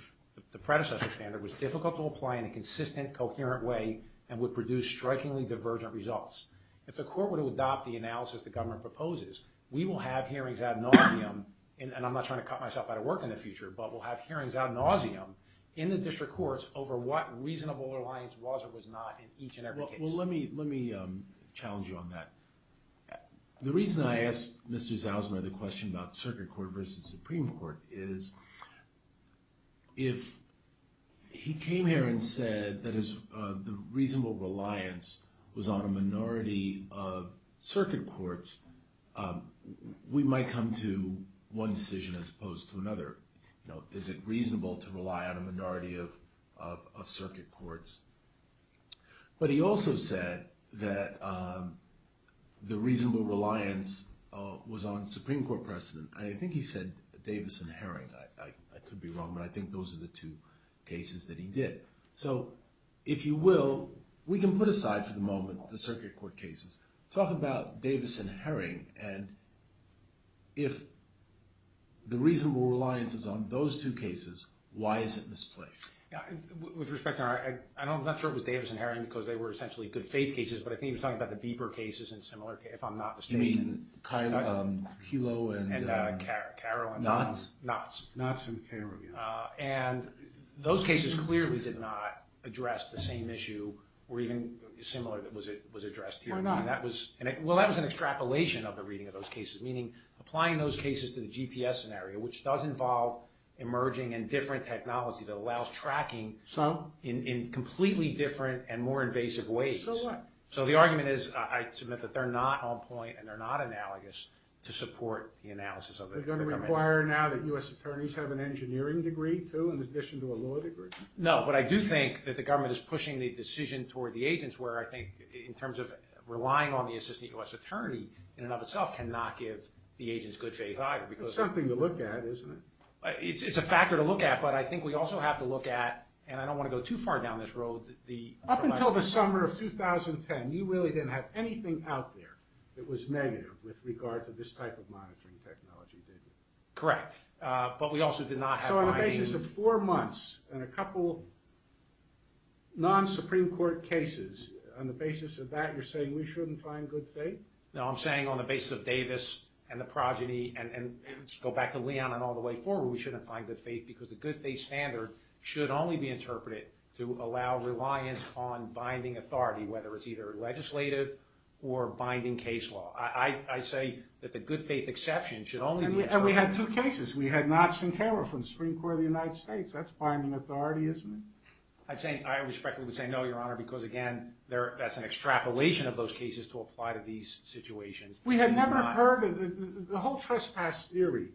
the predecessor standard, was difficult to apply in a consistent coherent way and would produce strikingly divergent results. If the Court were to adopt the analysis the government proposes we will have hearings out in Aussie, and I'm not trying to cut myself out of work in the future, but we'll have hearings out in Aussie in the District Courts over what reasonable reliance was or was not in each and every case. Well let me challenge you on that. The reason I asked Mr. Zausman the question about Circuit Court versus Supreme Court is if he came here and said that the reasonable reliance was on a minority of Circuit Courts we might come to one decision as opposed to another. Is it reasonable to rely on a minority of Circuit Courts? But he also said that the reasonable reliance was on Supreme Court precedent. I think he said Davis and Herring. I could be wrong but I think those are the two cases that he did. So if you will, we can put aside for the moment the Circuit Court cases. Talk about Davis and Herring and if the reasonable reliance is on those two cases, why is it misplaced? With respect I'm not sure it was Davis and Herring because they were essentially good faith cases but I think he was talking about the Bieber cases and similar cases if I'm not mistaken. You mean Kelo and Karo and Knotts. Knotts and Karo. And those cases clearly did not address the same issue or even similar that was addressed here. Why not? Well that was an extrapolation of the reading of those cases meaning applying those cases to the GPS scenario which does involve emerging and different technology that allows tracking in completely different and more invasive ways. So what? So the argument is I submit that they're not on point and they're not analogous to support the analysis of the government. They're going to require now that U.S. Attorneys have an engineering degree too in addition to a law degree? No, but I do think that the government is pushing the decision toward the agents where I think in terms of relying on the Assistant U.S. Attorney in and of itself can not give the agents good faith either. It's something to look at isn't it? It's a factor to look at but I think we also have to look at and I don't want to go too far down this road. Up until the summer of 2010 you really didn't have anything out there that was negative with regard to this type of monitoring technology did you? Correct, but we also did not have... So on the basis of four months and a couple non-Supreme Court cases, on the basis of that you're saying we shouldn't find good faith? No, I'm saying on the basis of Davis and the progeny and go back to Leon and all the way forward we shouldn't find good faith because the good faith standard should only be interpreted to allow reliance on binding authority whether it's either legislative or binding case law. I say that the good faith exception should only be interpreted... And we had two cases. We had knots in camera from the Supreme Court of the United States. That's binding authority isn't it? I respectfully would say no Your Honor because again that's an extrapolation of those cases to apply to these situations. We had never heard of the whole trespass theory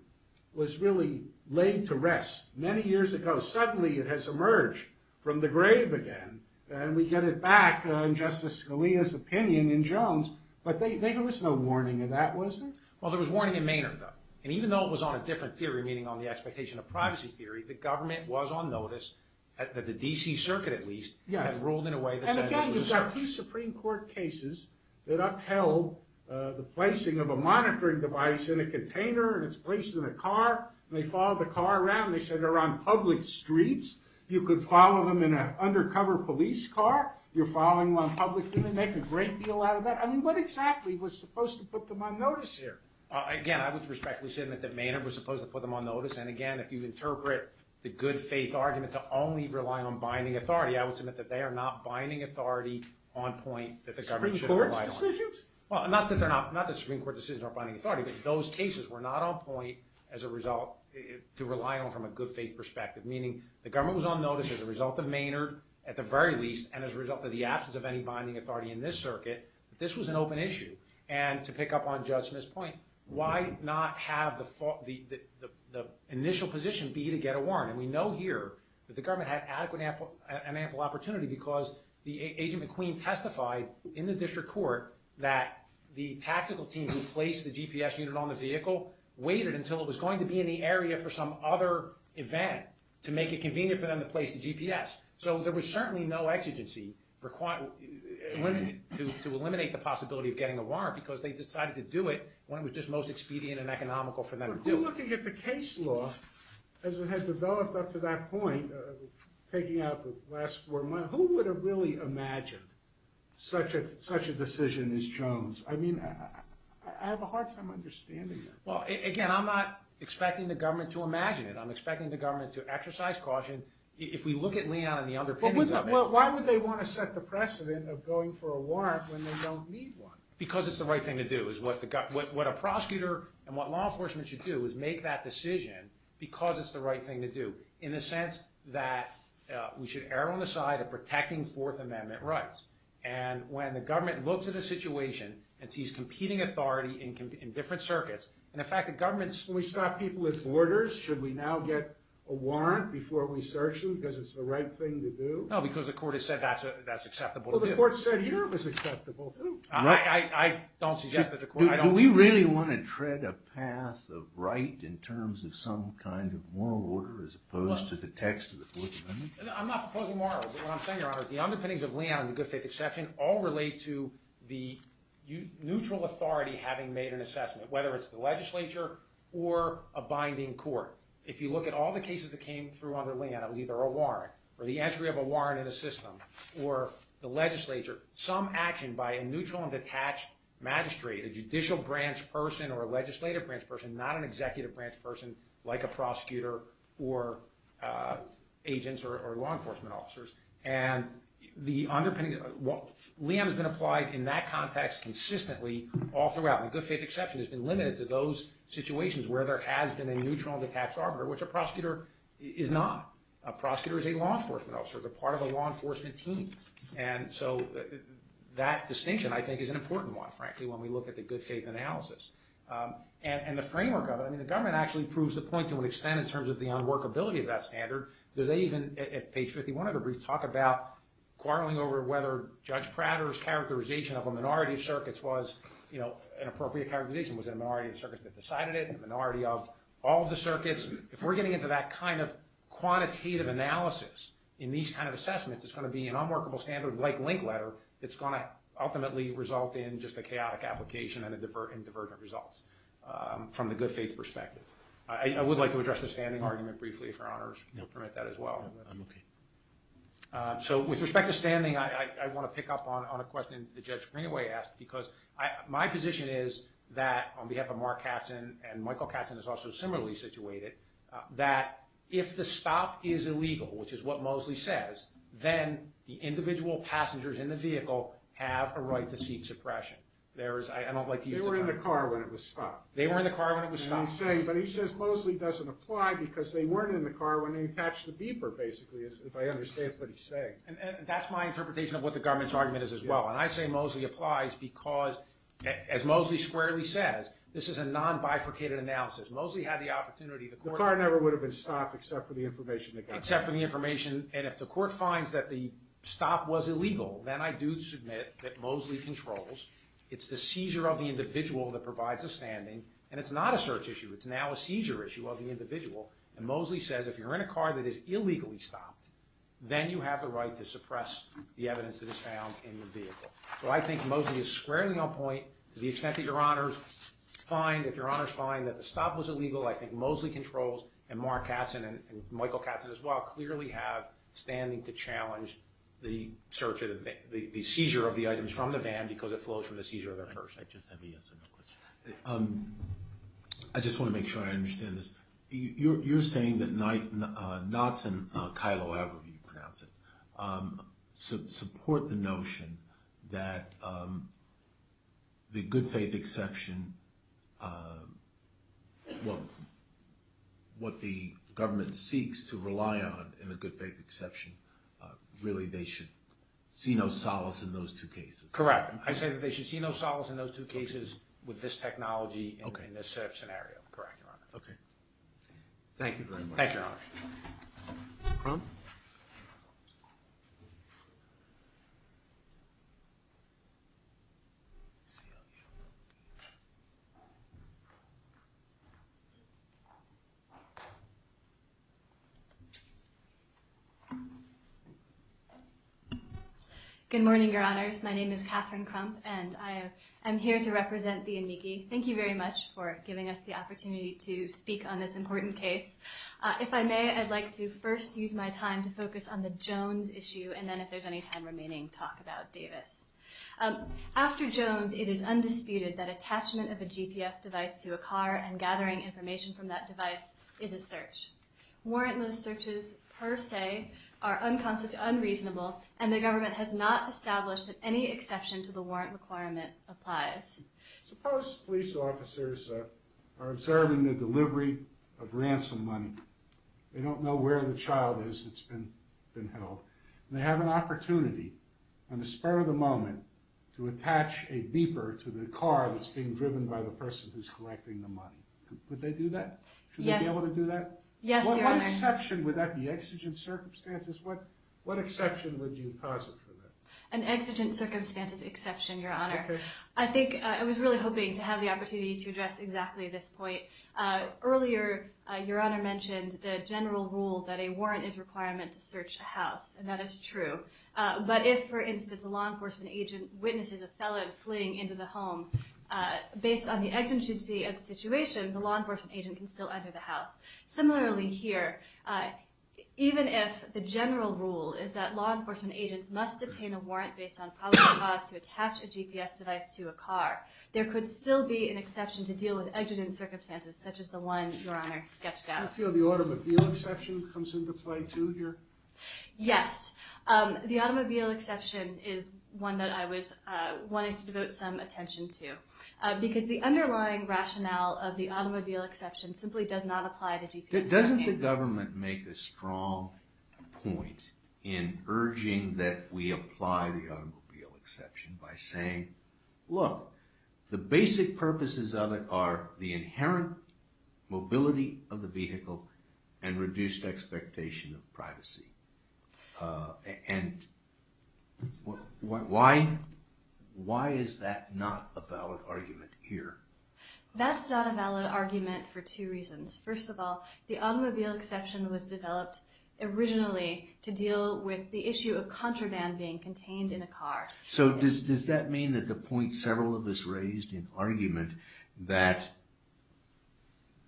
was really laid to rest many years ago. Suddenly it has emerged from the grave again and we get it back in Justice Scalia's opinion in Jones but there was no warning of that was there? Well there was warning in Maynard though and even though it was on a different theory meaning on the expectation of privacy theory the government was on notice that the D.C. Circuit at least had ruled in a way that said this was a search. And again you've got two Supreme Court cases that upheld the placing of a monitoring device in a container and it's placed in a car and they followed the car around and they said they're on public streets. You could follow them in an undercover police car. You're following them on public streets and they make a great deal out of that. I mean what exactly was supposed to put them on notice here? Again I would respectfully submit that Maynard was supposed to put them on notice and again if you interpret the good faith argument to only rely on binding authority I would submit that they are not binding authority on point that the government should have relied on. Supreme Court decisions? Not that Supreme Court decisions aren't binding authority but those cases were not on point as a result to rely on from a good faith perspective. Meaning the government was on notice as a result of Maynard at the very least and as a result of the absence of any binding authority in this circuit. This was an open issue and to pick up on the initial position be to get a warrant and we know here that the government had an ample opportunity because the agent McQueen testified in the district court that the tactical team who placed the GPS unit on the vehicle waited until it was going to be in the area for some other event to make it convenient for them to place the GPS. So there was certainly no exigency to eliminate the possibility of getting a warrant because they decided to do it when it was just most expedient and economical for them to do it. But looking at the case law as it had developed up to that point taking out the last four months, who would have really imagined such a decision as Jones? I mean I have a hard time understanding that. Well again I'm not expecting the government to imagine it. I'm expecting the government to exercise caution if we look at Leon and the underpinnings of it. But why would they want to set the precedent of going for a warrant when they don't need one? Because it's the right thing to do is what a prosecutor and what law enforcement should do is make that decision because it's the right thing to do. In the sense that we should err on the side of protecting Fourth Amendment rights. And when the government looks at a situation and sees competing authority in different circuits and in fact the government's... When we stop people at borders should we now get a warrant before we search them because it's the right thing to do? No because the court has said that's acceptable to do. Well the court said it was acceptable to... I don't suggest that the court... Do we really want to tread a path of right in terms of some kind of moral order as opposed to the text of the Fourth Amendment? I'm not proposing moral but what I'm saying Your Honor is the underpinnings of Leon and the good faith exception all relate to the neutral authority having made an assessment. Whether it's the legislature or a binding court. If you look at all the cases that came through under Leon it was either a warrant or the entry of a warrant in a system or the legislature. Some action by a neutral and detached magistrate, a judicial branch person or a legislative branch person, not an executive branch person like a prosecutor or agents or law enforcement officers and the underpinnings... Leon has been applied in that context consistently all throughout. The good faith exception has been limited to those situations where there has been a neutral and detached arbiter which a prosecutor is not. A prosecutor is a law enforcement officer. They're part of a law enforcement team and so that distinction I think is an important one frankly when we look at the good faith analysis and the framework of it I mean the government actually proves the point to an extent in terms of the unworkability of that standard that they even at page 51 of the brief talk about quarreling over whether Judge Prater's characterization of a minority of circuits was an appropriate characterization. Was it a minority of circuits that decided it? A minority of all the circuits? If we're getting into that kind of in these kind of assessments it's going to be an unworkable standard like link letter that's going to ultimately result in just a chaotic application and divergent results from the good faith perspective. I would like to address the standing argument briefly if your honors permit that as well. So with respect to standing I want to pick up on a question the Judge Greenaway asked because my position is that on behalf of Mark Katzen and Michael Katzen is also similarly situated that if the stop is illegal which is what Mosley says then the individual passengers in the vehicle have a right to seek suppression. I don't like to use the term. They were in the car when it was stopped. They were in the car when it was stopped. But he says Mosley doesn't apply because they weren't in the car when they attached the beeper basically if I understand what he's saying. And that's my interpretation of what the government's argument is as well. And I say Mosley applies because as Mosley squarely says this is a non-bifurcated analysis. Mosley had the opportunity. The car never would have been stopped except for the information. Except for the information and if the court finds that the stop was illegal then I do submit that Mosley controls. It's the seizure of the individual that provides a standing and it's not a search issue. It's now a seizure issue of the individual and Mosley says if you're in a car that is illegally stopped then you have the right to suppress the evidence that is found in the vehicle. So I think Mosley is squarely on point to the extent that your honors find, if your honors find that the stop was illegal, I think Mosley controls and Mark Katzen and Michael Katzen as well clearly have standing to challenge the search or the seizure of the items from the van because it flows from the seizure of the person. I just have a yes or no question. I just want to make sure I understand this. You're saying that Knott's and Kylo, however you pronounce it, support the notion that the good faith exception what the government seeks to rely on in the good faith exception, really they should see no solace in those two cases. Correct. I say that they should see no solace in those two cases with this technology Correct, your honor. Thank you very much. Thank you, your honor. CLU. Good morning, your honors. My name is Catherine Crump and I am here to represent the Enmigi. Thank you very much for giving us the opportunity to speak on this important case. If I may, I'd like to first use my time to focus on the Jones issue and then if there's any time remaining talk about Davis. After Jones, it is undisputed that attachment of a GPS device to a car and gathering information from that device is a search. Warrantless searches per se are unreasonable and the government has not established that any exception to the warrant requirement applies. Suppose police officers are observing the delivery of ransom money. They don't know where the child is that's been held. They have an opportunity in the spur of the moment to attach a beeper to the car that's being driven by the person who's collecting the money. Would they do that? Should they be able to do that? What exception would that be? Exigent circumstances? What exception would you posit for that? An exigent circumstances exception, your honor. I think, I was really hoping to have the opportunity to address exactly this point. Earlier, your honor mentioned the general rule that a law enforcement agent can still enter the house. And that is true. But if, for instance, a law enforcement agent witnesses a felon fleeing into the home based on the exigency of the situation, the law enforcement agent can still enter the house. Similarly here, even if the general rule is that law enforcement agents must obtain a warrant based on probable cause to attach a GPS device to a car, there could still be an exception to deal with exigent circumstances such as the one your honor sketched out. Do you feel the automobile exception comes into play too here? Yes. The automobile exception is one that I was wanting to devote some attention to. Because the underlying rationale of the automobile exception simply does not apply to GPS. Doesn't the government make a strong point in urging that we apply the automobile exception by saying, look, the basic purposes of it are the inherent mobility of the vehicle and reduced expectation of privacy. And why is that not a valid argument here? That's not a valid argument for two reasons. First of all, the automobile exception was developed originally to deal with the issue of contraband being contained in a car. So does that mean that the point several of us raised in argument that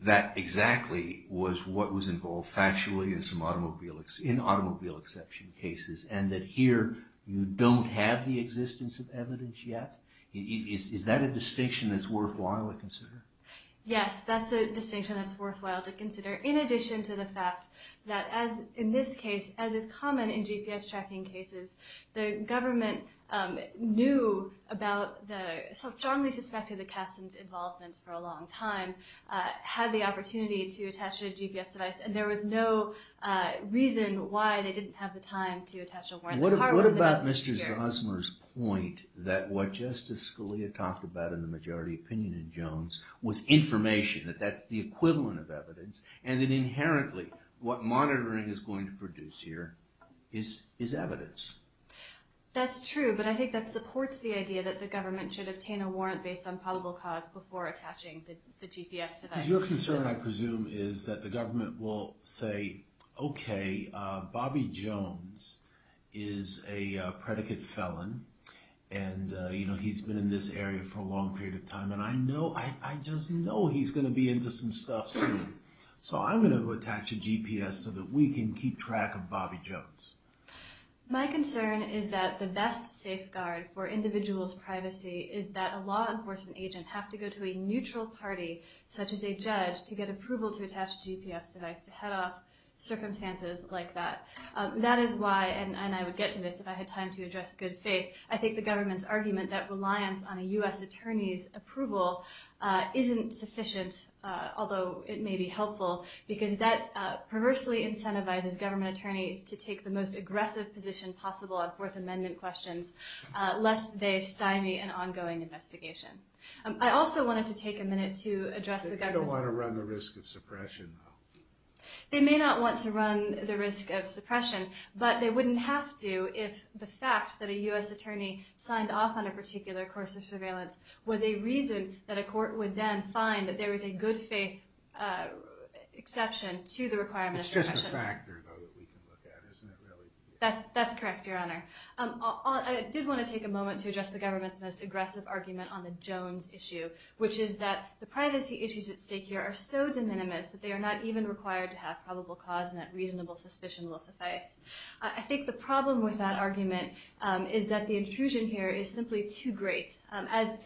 that exactly was what was involved factually in automobile exception cases and that here you don't have the existence of evidence yet? Is that a distinction that's worthwhile to consider? Yes, that's a distinction that's worthwhile to consider in addition to the fact that as in this case as is common in GPS tracking cases, the government knew about the involvement for a long time, had the opportunity to attach a GPS device, and there was no reason why they didn't have the time to attach a warrant. What about Mr. Zosmer's point that what Justice Scalia talked about in the majority opinion in Jones was information, that that's the equivalent of evidence, and inherently what monitoring is going to produce here is evidence? That's true, but I think that supports the idea that the government should obtain a warrant based on probable cause before attaching the GPS device. Because your concern, I presume, is that the government will say okay, Bobby Jones is a predicate felon and he's been in this area for a long period of time and I know I just know he's going to be into some stuff soon, so I'm going to attach a GPS so that we can keep track of Bobby Jones. My concern is that the best safeguard for individuals' privacy is that a law enforcement agent have to go to a neutral party such as a judge to get approval to attach a GPS device to head off circumstances like that. That is why, and I would get to this if I had time to address good faith, I think the government's argument that reliance on a U.S. attorney's approval isn't sufficient, although it may be helpful, because that perversely incentivizes government attorneys to take the most aggressive position possible on Fourth Amendment questions lest they stymie an ongoing investigation. I also wanted to take a minute to address the government... They don't want to run the risk of suppression, though. They may not want to run the risk of suppression, but they wouldn't have to if the fact that a U.S. attorney signed off on a particular course of surveillance was a reason that a court would then find that there is a good faith exception to the requirement of suppression. It's just a factor, though, that we can look at, isn't it, really? That's correct, Your Honor. I did want to take a moment to address the government's most aggressive argument on the Jones issue, which is that the privacy issues at stake here are so de minimis that they are not even required to have probable cause and that reasonable suspicion will suffice. I think the problem with that argument is that the intrusion here is simply too great. As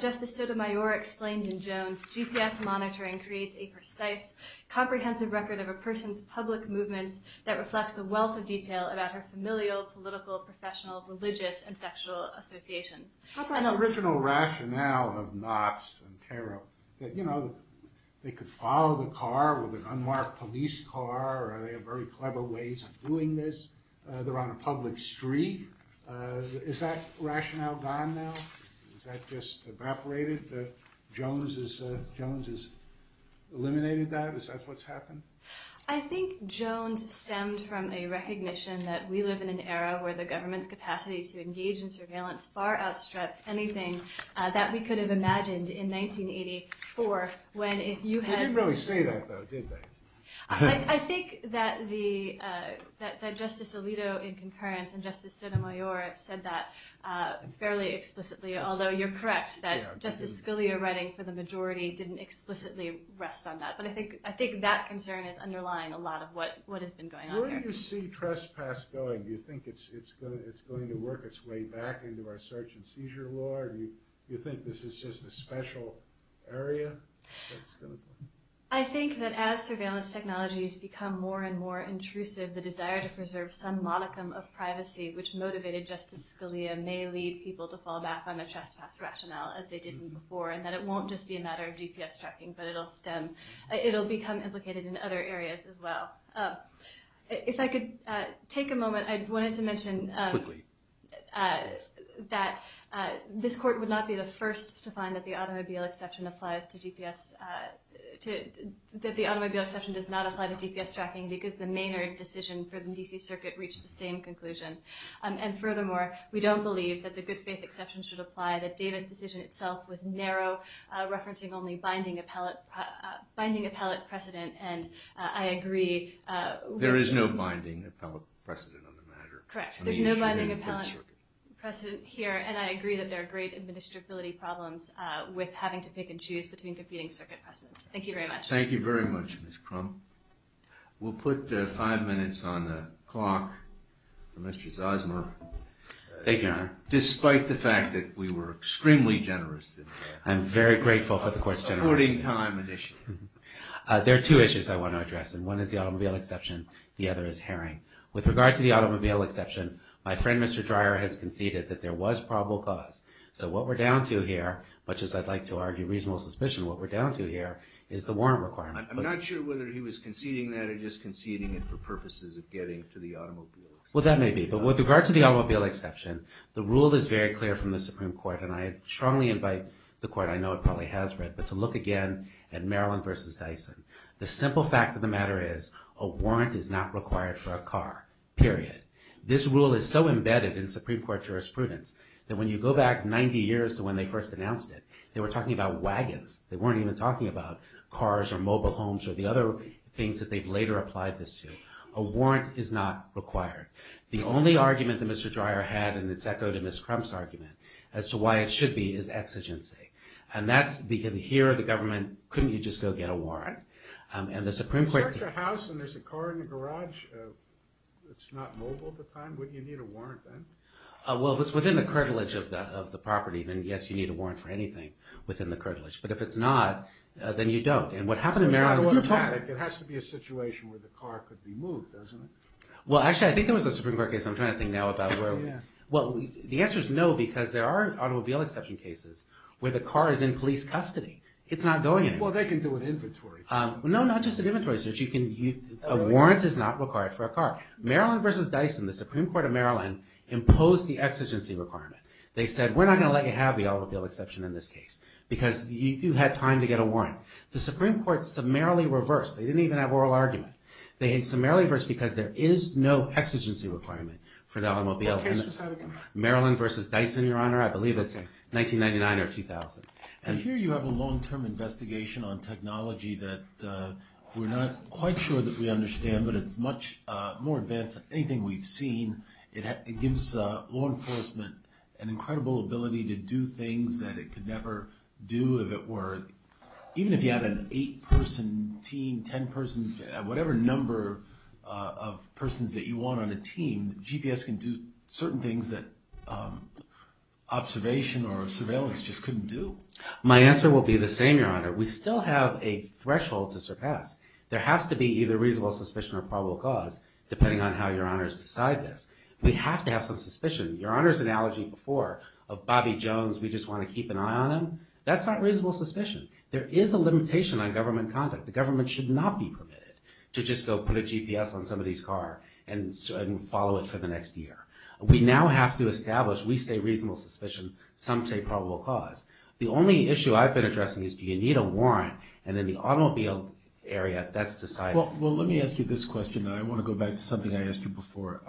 Justice Sotomayor explained in Jones, GPS monitoring creates a precise, comprehensive record of a person's public movements that reflects a wealth of detail about her familial, political, professional, religious, and sexual associations. How about the original rationale of Knotts and Carrow? They could follow the car with an unmarked police car or they have very clever ways of doing this. They're on a public street. Is that rationale gone now? Is that just evaporated? Jones has eliminated that? Is that what's happened? I think Jones stemmed from a recognition that we live in an era where the government's capacity to engage in surveillance far outstripped anything that we could have imagined in 1984 when if you had... They didn't really say that, though, did they? I think that Justice Alito in concurrence and Justice Sotomayor said that fairly explicitly, although you're correct that Justice Scalia writing for the majority didn't explicitly rest on that, but I think that concern is underlying a lot of what has been going on here. Where do you see trespass going? Do you think it's going to work its way back into our search and seizure law or do you think this is just a special area? I think that as surveillance technologies become more and more intrusive, the desire to preserve some modicum of privacy, which motivated Justice Scalia, may lead people to fall back on the trespass rationale as they did before and that it won't just be a matter of GPS tracking, but it'll become implicated in other areas as well. If I could take a moment, I wanted to mention that this Court would not be the first to find that the automobile exception applies to GPS that the automobile exception does not apply to GPS tracking because the Maynard decision for the D.C. Circuit reached the same conclusion. And furthermore, we don't believe that the good faith exception should apply, that Davis decision itself was narrow, referencing only binding appellate precedent and I agree... There is no binding appellate precedent on the matter. Correct. There's no binding appellate precedent here and I agree that there are great administrability problems with having to pick and choose between competing circuit precedents. Thank you very much. Thank you very much, Ms. Crump. We'll put five minutes on the clock for Mr. Zosmer. Thank you, Your Honor. Despite the fact that we were extremely generous... I'm very grateful for the Court's generosity. ...supporting time initially. There are two issues I want to address and one is the automobile exception, the other is Herring. With regard to the automobile exception, my friend Mr. Dreyer has conceded that there was probable cause. So what we're down to here, much as I'd like to argue reasonable suspicion, what we're down to here is the warrant requirement. I'm not sure whether he was conceding that or just conceding it for purposes of getting to the automobile exception. The rule is very clear from the Supreme Court and I strongly invite the Court, I know it probably has read, but to look again at Maryland v. Dyson. The simple fact of the matter is a warrant is not required for a car, period. This rule is so embedded in Supreme Court jurisprudence that when you go back 90 years to when they first announced it, they were talking about wagons. They weren't even talking about cars or mobile homes or the other things that they've later applied this to. A warrant is not required. The only argument that Mr. Dreyer had, and it's echoed in Ms. Crump's argument, as to why it should be, is exigency. And that's because here the government, couldn't you just go get a warrant? And the Supreme Court... If it's such a house and there's a car in the garage that's not mobile at the time, wouldn't you need a warrant then? Well, if it's within the curtilage of the property, then yes, you need a warrant for anything within the curtilage. But if it's not, then you don't. And what happened in Maryland... It has to be a situation where the car could be moved, doesn't it? Well, actually, I think there was a Supreme Court case. I'm trying to think now about where... Well, the answer is no, because there are automobile exception cases where the car is in police custody. It's not going anywhere. Well, they can do it in inventory. No, not just in inventory. A warrant is not required for a car. Maryland v. Dyson, the Supreme Court of Maryland, imposed the exigency requirement. They said, we're not going to let you have the automobile exception in this case, because you had time to get a warrant. The Supreme Court summarily reversed. They didn't even have oral argument. They had summarily reversed because there is no exigency requirement for the automobile. What case was that again? Maryland v. Dyson, Your Honor. I believe it's 1999 or 2000. And here you have a long-term investigation on technology that we're not quite sure that we understand, but it's much more advanced than anything we've seen. It gives law enforcement an incredible ability to do things that it could never do if it were... Even if you had an eight-person team, ten-person, whatever number of persons that you want on a team, GPS can do certain things that observation or surveillance just couldn't do. My answer will be the same, Your Honor. We still have a threshold to surpass. There has to be either reasonable suspicion or probable cause, depending on how Your Honors decide this. We have to have some suspicion. Your Honor's analogy before of Bobby Jones, we just want to keep an eye on him, that's not reasonable suspicion. There is a limitation on government conduct. The government should not be permitted to just go put a GPS on somebody's car and follow it for the next year. We now have to establish, we say reasonable suspicion, some say probable cause. The only issue I've been addressing is do you need a warrant and in the automobile area, that's decided. Well, let me ask you this question and I want to go back to something I asked you before.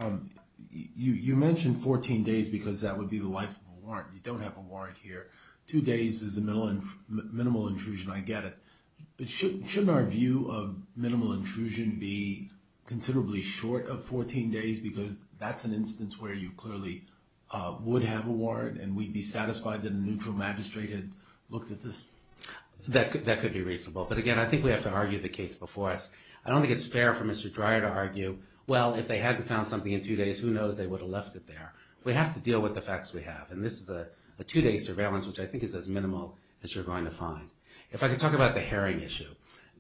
You mentioned 14 days because that would be the life of a warrant. You don't have a warrant here. Two days is a minimal intrusion. I get it. But shouldn't our view of minimal intrusion be considerably short of 14 days because that's an instance where you clearly would have a warrant and we'd be satisfied that a neutral magistrate had looked at this? That could be reasonable. But again, I think we have to argue the case before us. I don't think it's fair for Mr. Dreyer to argue well, if they hadn't found something in two days, who knows, they would have left it there. We have to deal with the facts we have and this is a two-day surveillance which I think is as minimal as you're going to find. If I could talk about the herring issue.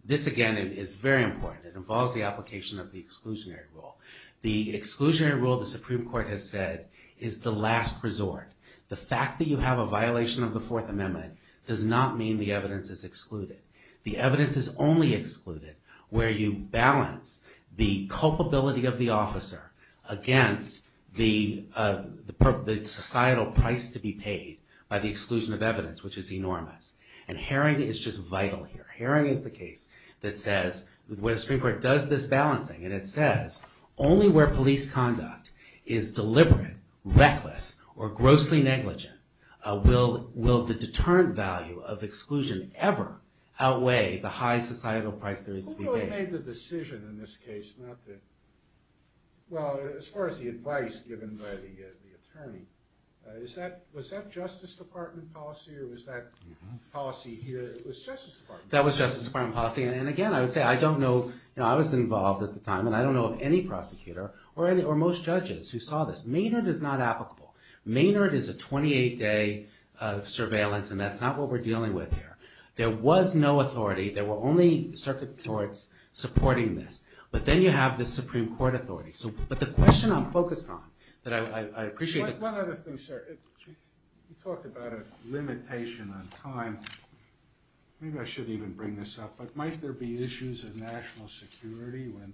This, again, is very important. It involves the application of the exclusionary rule. The exclusionary rule, the Supreme Court has said, is the last resort. The fact that you have a violation of the Fourth Amendment does not mean the evidence is excluded. The evidence is only excluded where you balance the culpability of the officer against the societal price to be paid by the exclusion of evidence which is enormous. And herring is just vital here. Herring is the case that says, when the Supreme Court does this balancing and it says only where police conduct is deliberate, reckless, or grossly negligent will the deterrent value of exclusion ever outweigh the high societal price there is to be paid. Who really made the decision in this case? It's not the... Well, as far as the advice given by the attorney, was that Justice Department policy or was that policy here? It was Justice Department. That was Justice Department policy and again, I would say, I don't know... I was involved at the time and I don't know of any prosecutor or most judges who saw this. Maynard is not applicable. Maynard is a 28-day surveillance and that's not what we're dealing with here. There was no authority. There were only circuit courts supporting this. But then you have the Supreme Court authority. But the question I'm focused on, that I appreciate... One other thing, sir. You talked about a limitation on time. Maybe I shouldn't even bring this up, but might there be issues of national security when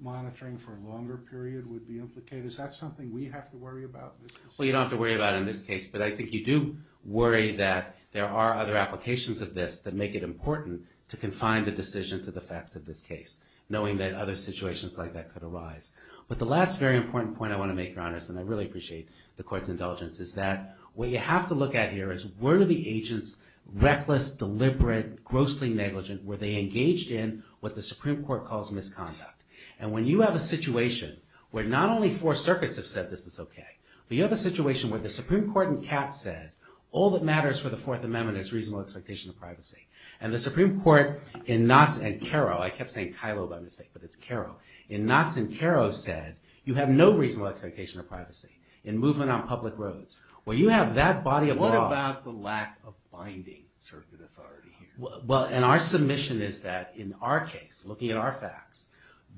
monitoring for a longer period would be implicated? Is that something we have to worry about? Well, you don't have to worry about it in this case, but I think you do worry that there are other applications of this that make it important to confine the decision to the facts of this case, knowing that other situations like that could arise. But the last very important point I want to make, Your Honors, and I really appreciate the Court's indulgence, is that what you have to look at here is, were the agents reckless, deliberate, grossly negligent? Were they engaged in what the Supreme Court calls misconduct? And when you have a situation where not only four circuits have said this is okay, but you have a situation where the Supreme Court in Katz said all that matters for the Fourth Amendment is reasonable expectation of privacy. And the Supreme Court in Knotts and Carrow, I kept saying Kilo by mistake, but it's Carrow, in Knotts and Carrow said, you have no reasonable expectation of privacy. In Movement on Public Roads, where you have that body of law... What about the lack of binding circuit authority here? Well, and our submission is that in our case, looking at our facts,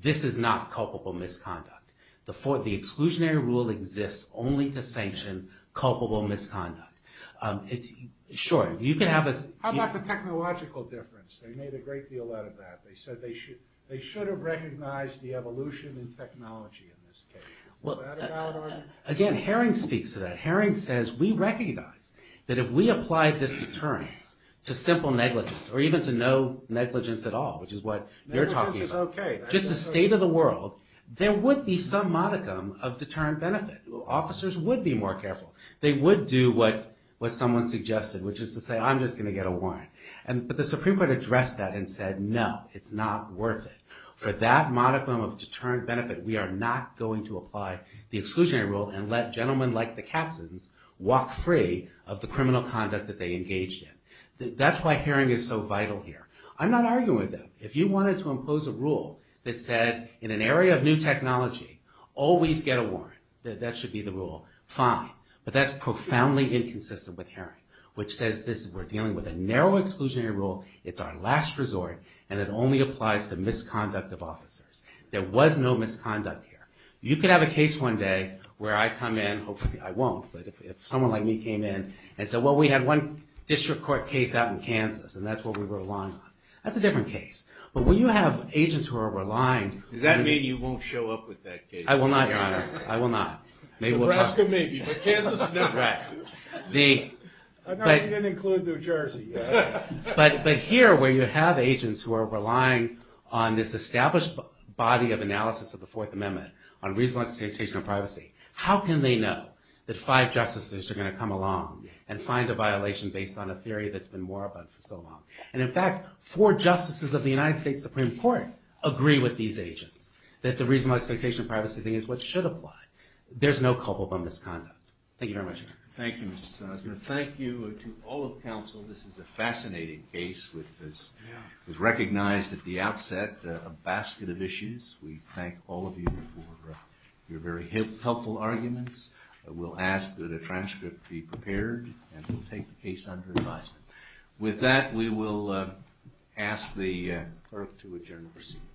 this is not culpable misconduct. The exclusionary rule exists only to sanction culpable misconduct. Sure. How about the technological difference? They made a great deal out of that. They said they should have recognized the evolution in technology in this case. Again, Herring speaks to that. Herring says we recognize that if we applied this deterrence to simple negligence, or even to no negligence at all, which is what you're talking about, just the state of the world, there would be some modicum of deterrent benefit. Officers would be more careful. They would do what someone suggested, which is to say, I'm just going to get a warrant. But the Supreme Court addressed that and said, no, it's not worth it. For that modicum of deterrent benefit, we are not going to apply the exclusionary rule and let gentlemen like the Katzens walk free of the criminal conduct that they engaged in. That's why Herring is so vital here. I'm not arguing with him. If you wanted to impose a rule that said, in an area of new technology, always get a warrant, that's fine. But that's profoundly inconsistent with Herring, which says we're dealing with a narrow exclusionary rule, it's our last resort, and it only applies to misconduct of officers. There was no misconduct here. You could have a case one day where I come in, hopefully I won't, but if someone like me came in and said, well, we had one district court case out in Kansas, and that's what we were relying on. That's a different case. But when you have agents who are relying... Does that mean you won't show up with that case? I will not, Alaska maybe, but Kansas no. I'm not going to include New Jersey yet. But here, where you have agents who are relying on this established body of analysis of the Fourth Amendment on reasonable expectation of privacy, how can they know that five justices are going to come along and find a violation based on a theory that's been more about it for so long? And in fact, four justices of the United States Supreme Court agree with these agents that the reasonable expectation of privacy thing is what should apply. There's no culpable misconduct. Thank you very much. Thank you, Mr. Sussman. Thank you to all of counsel. This is a fascinating case which was recognized at the outset, a basket of issues. We thank all of you for your very helpful arguments. We'll ask that a transcript be prepared, and we'll take the case under advisement. With that, we will ask the clerk to adjourn the proceedings. Thank you.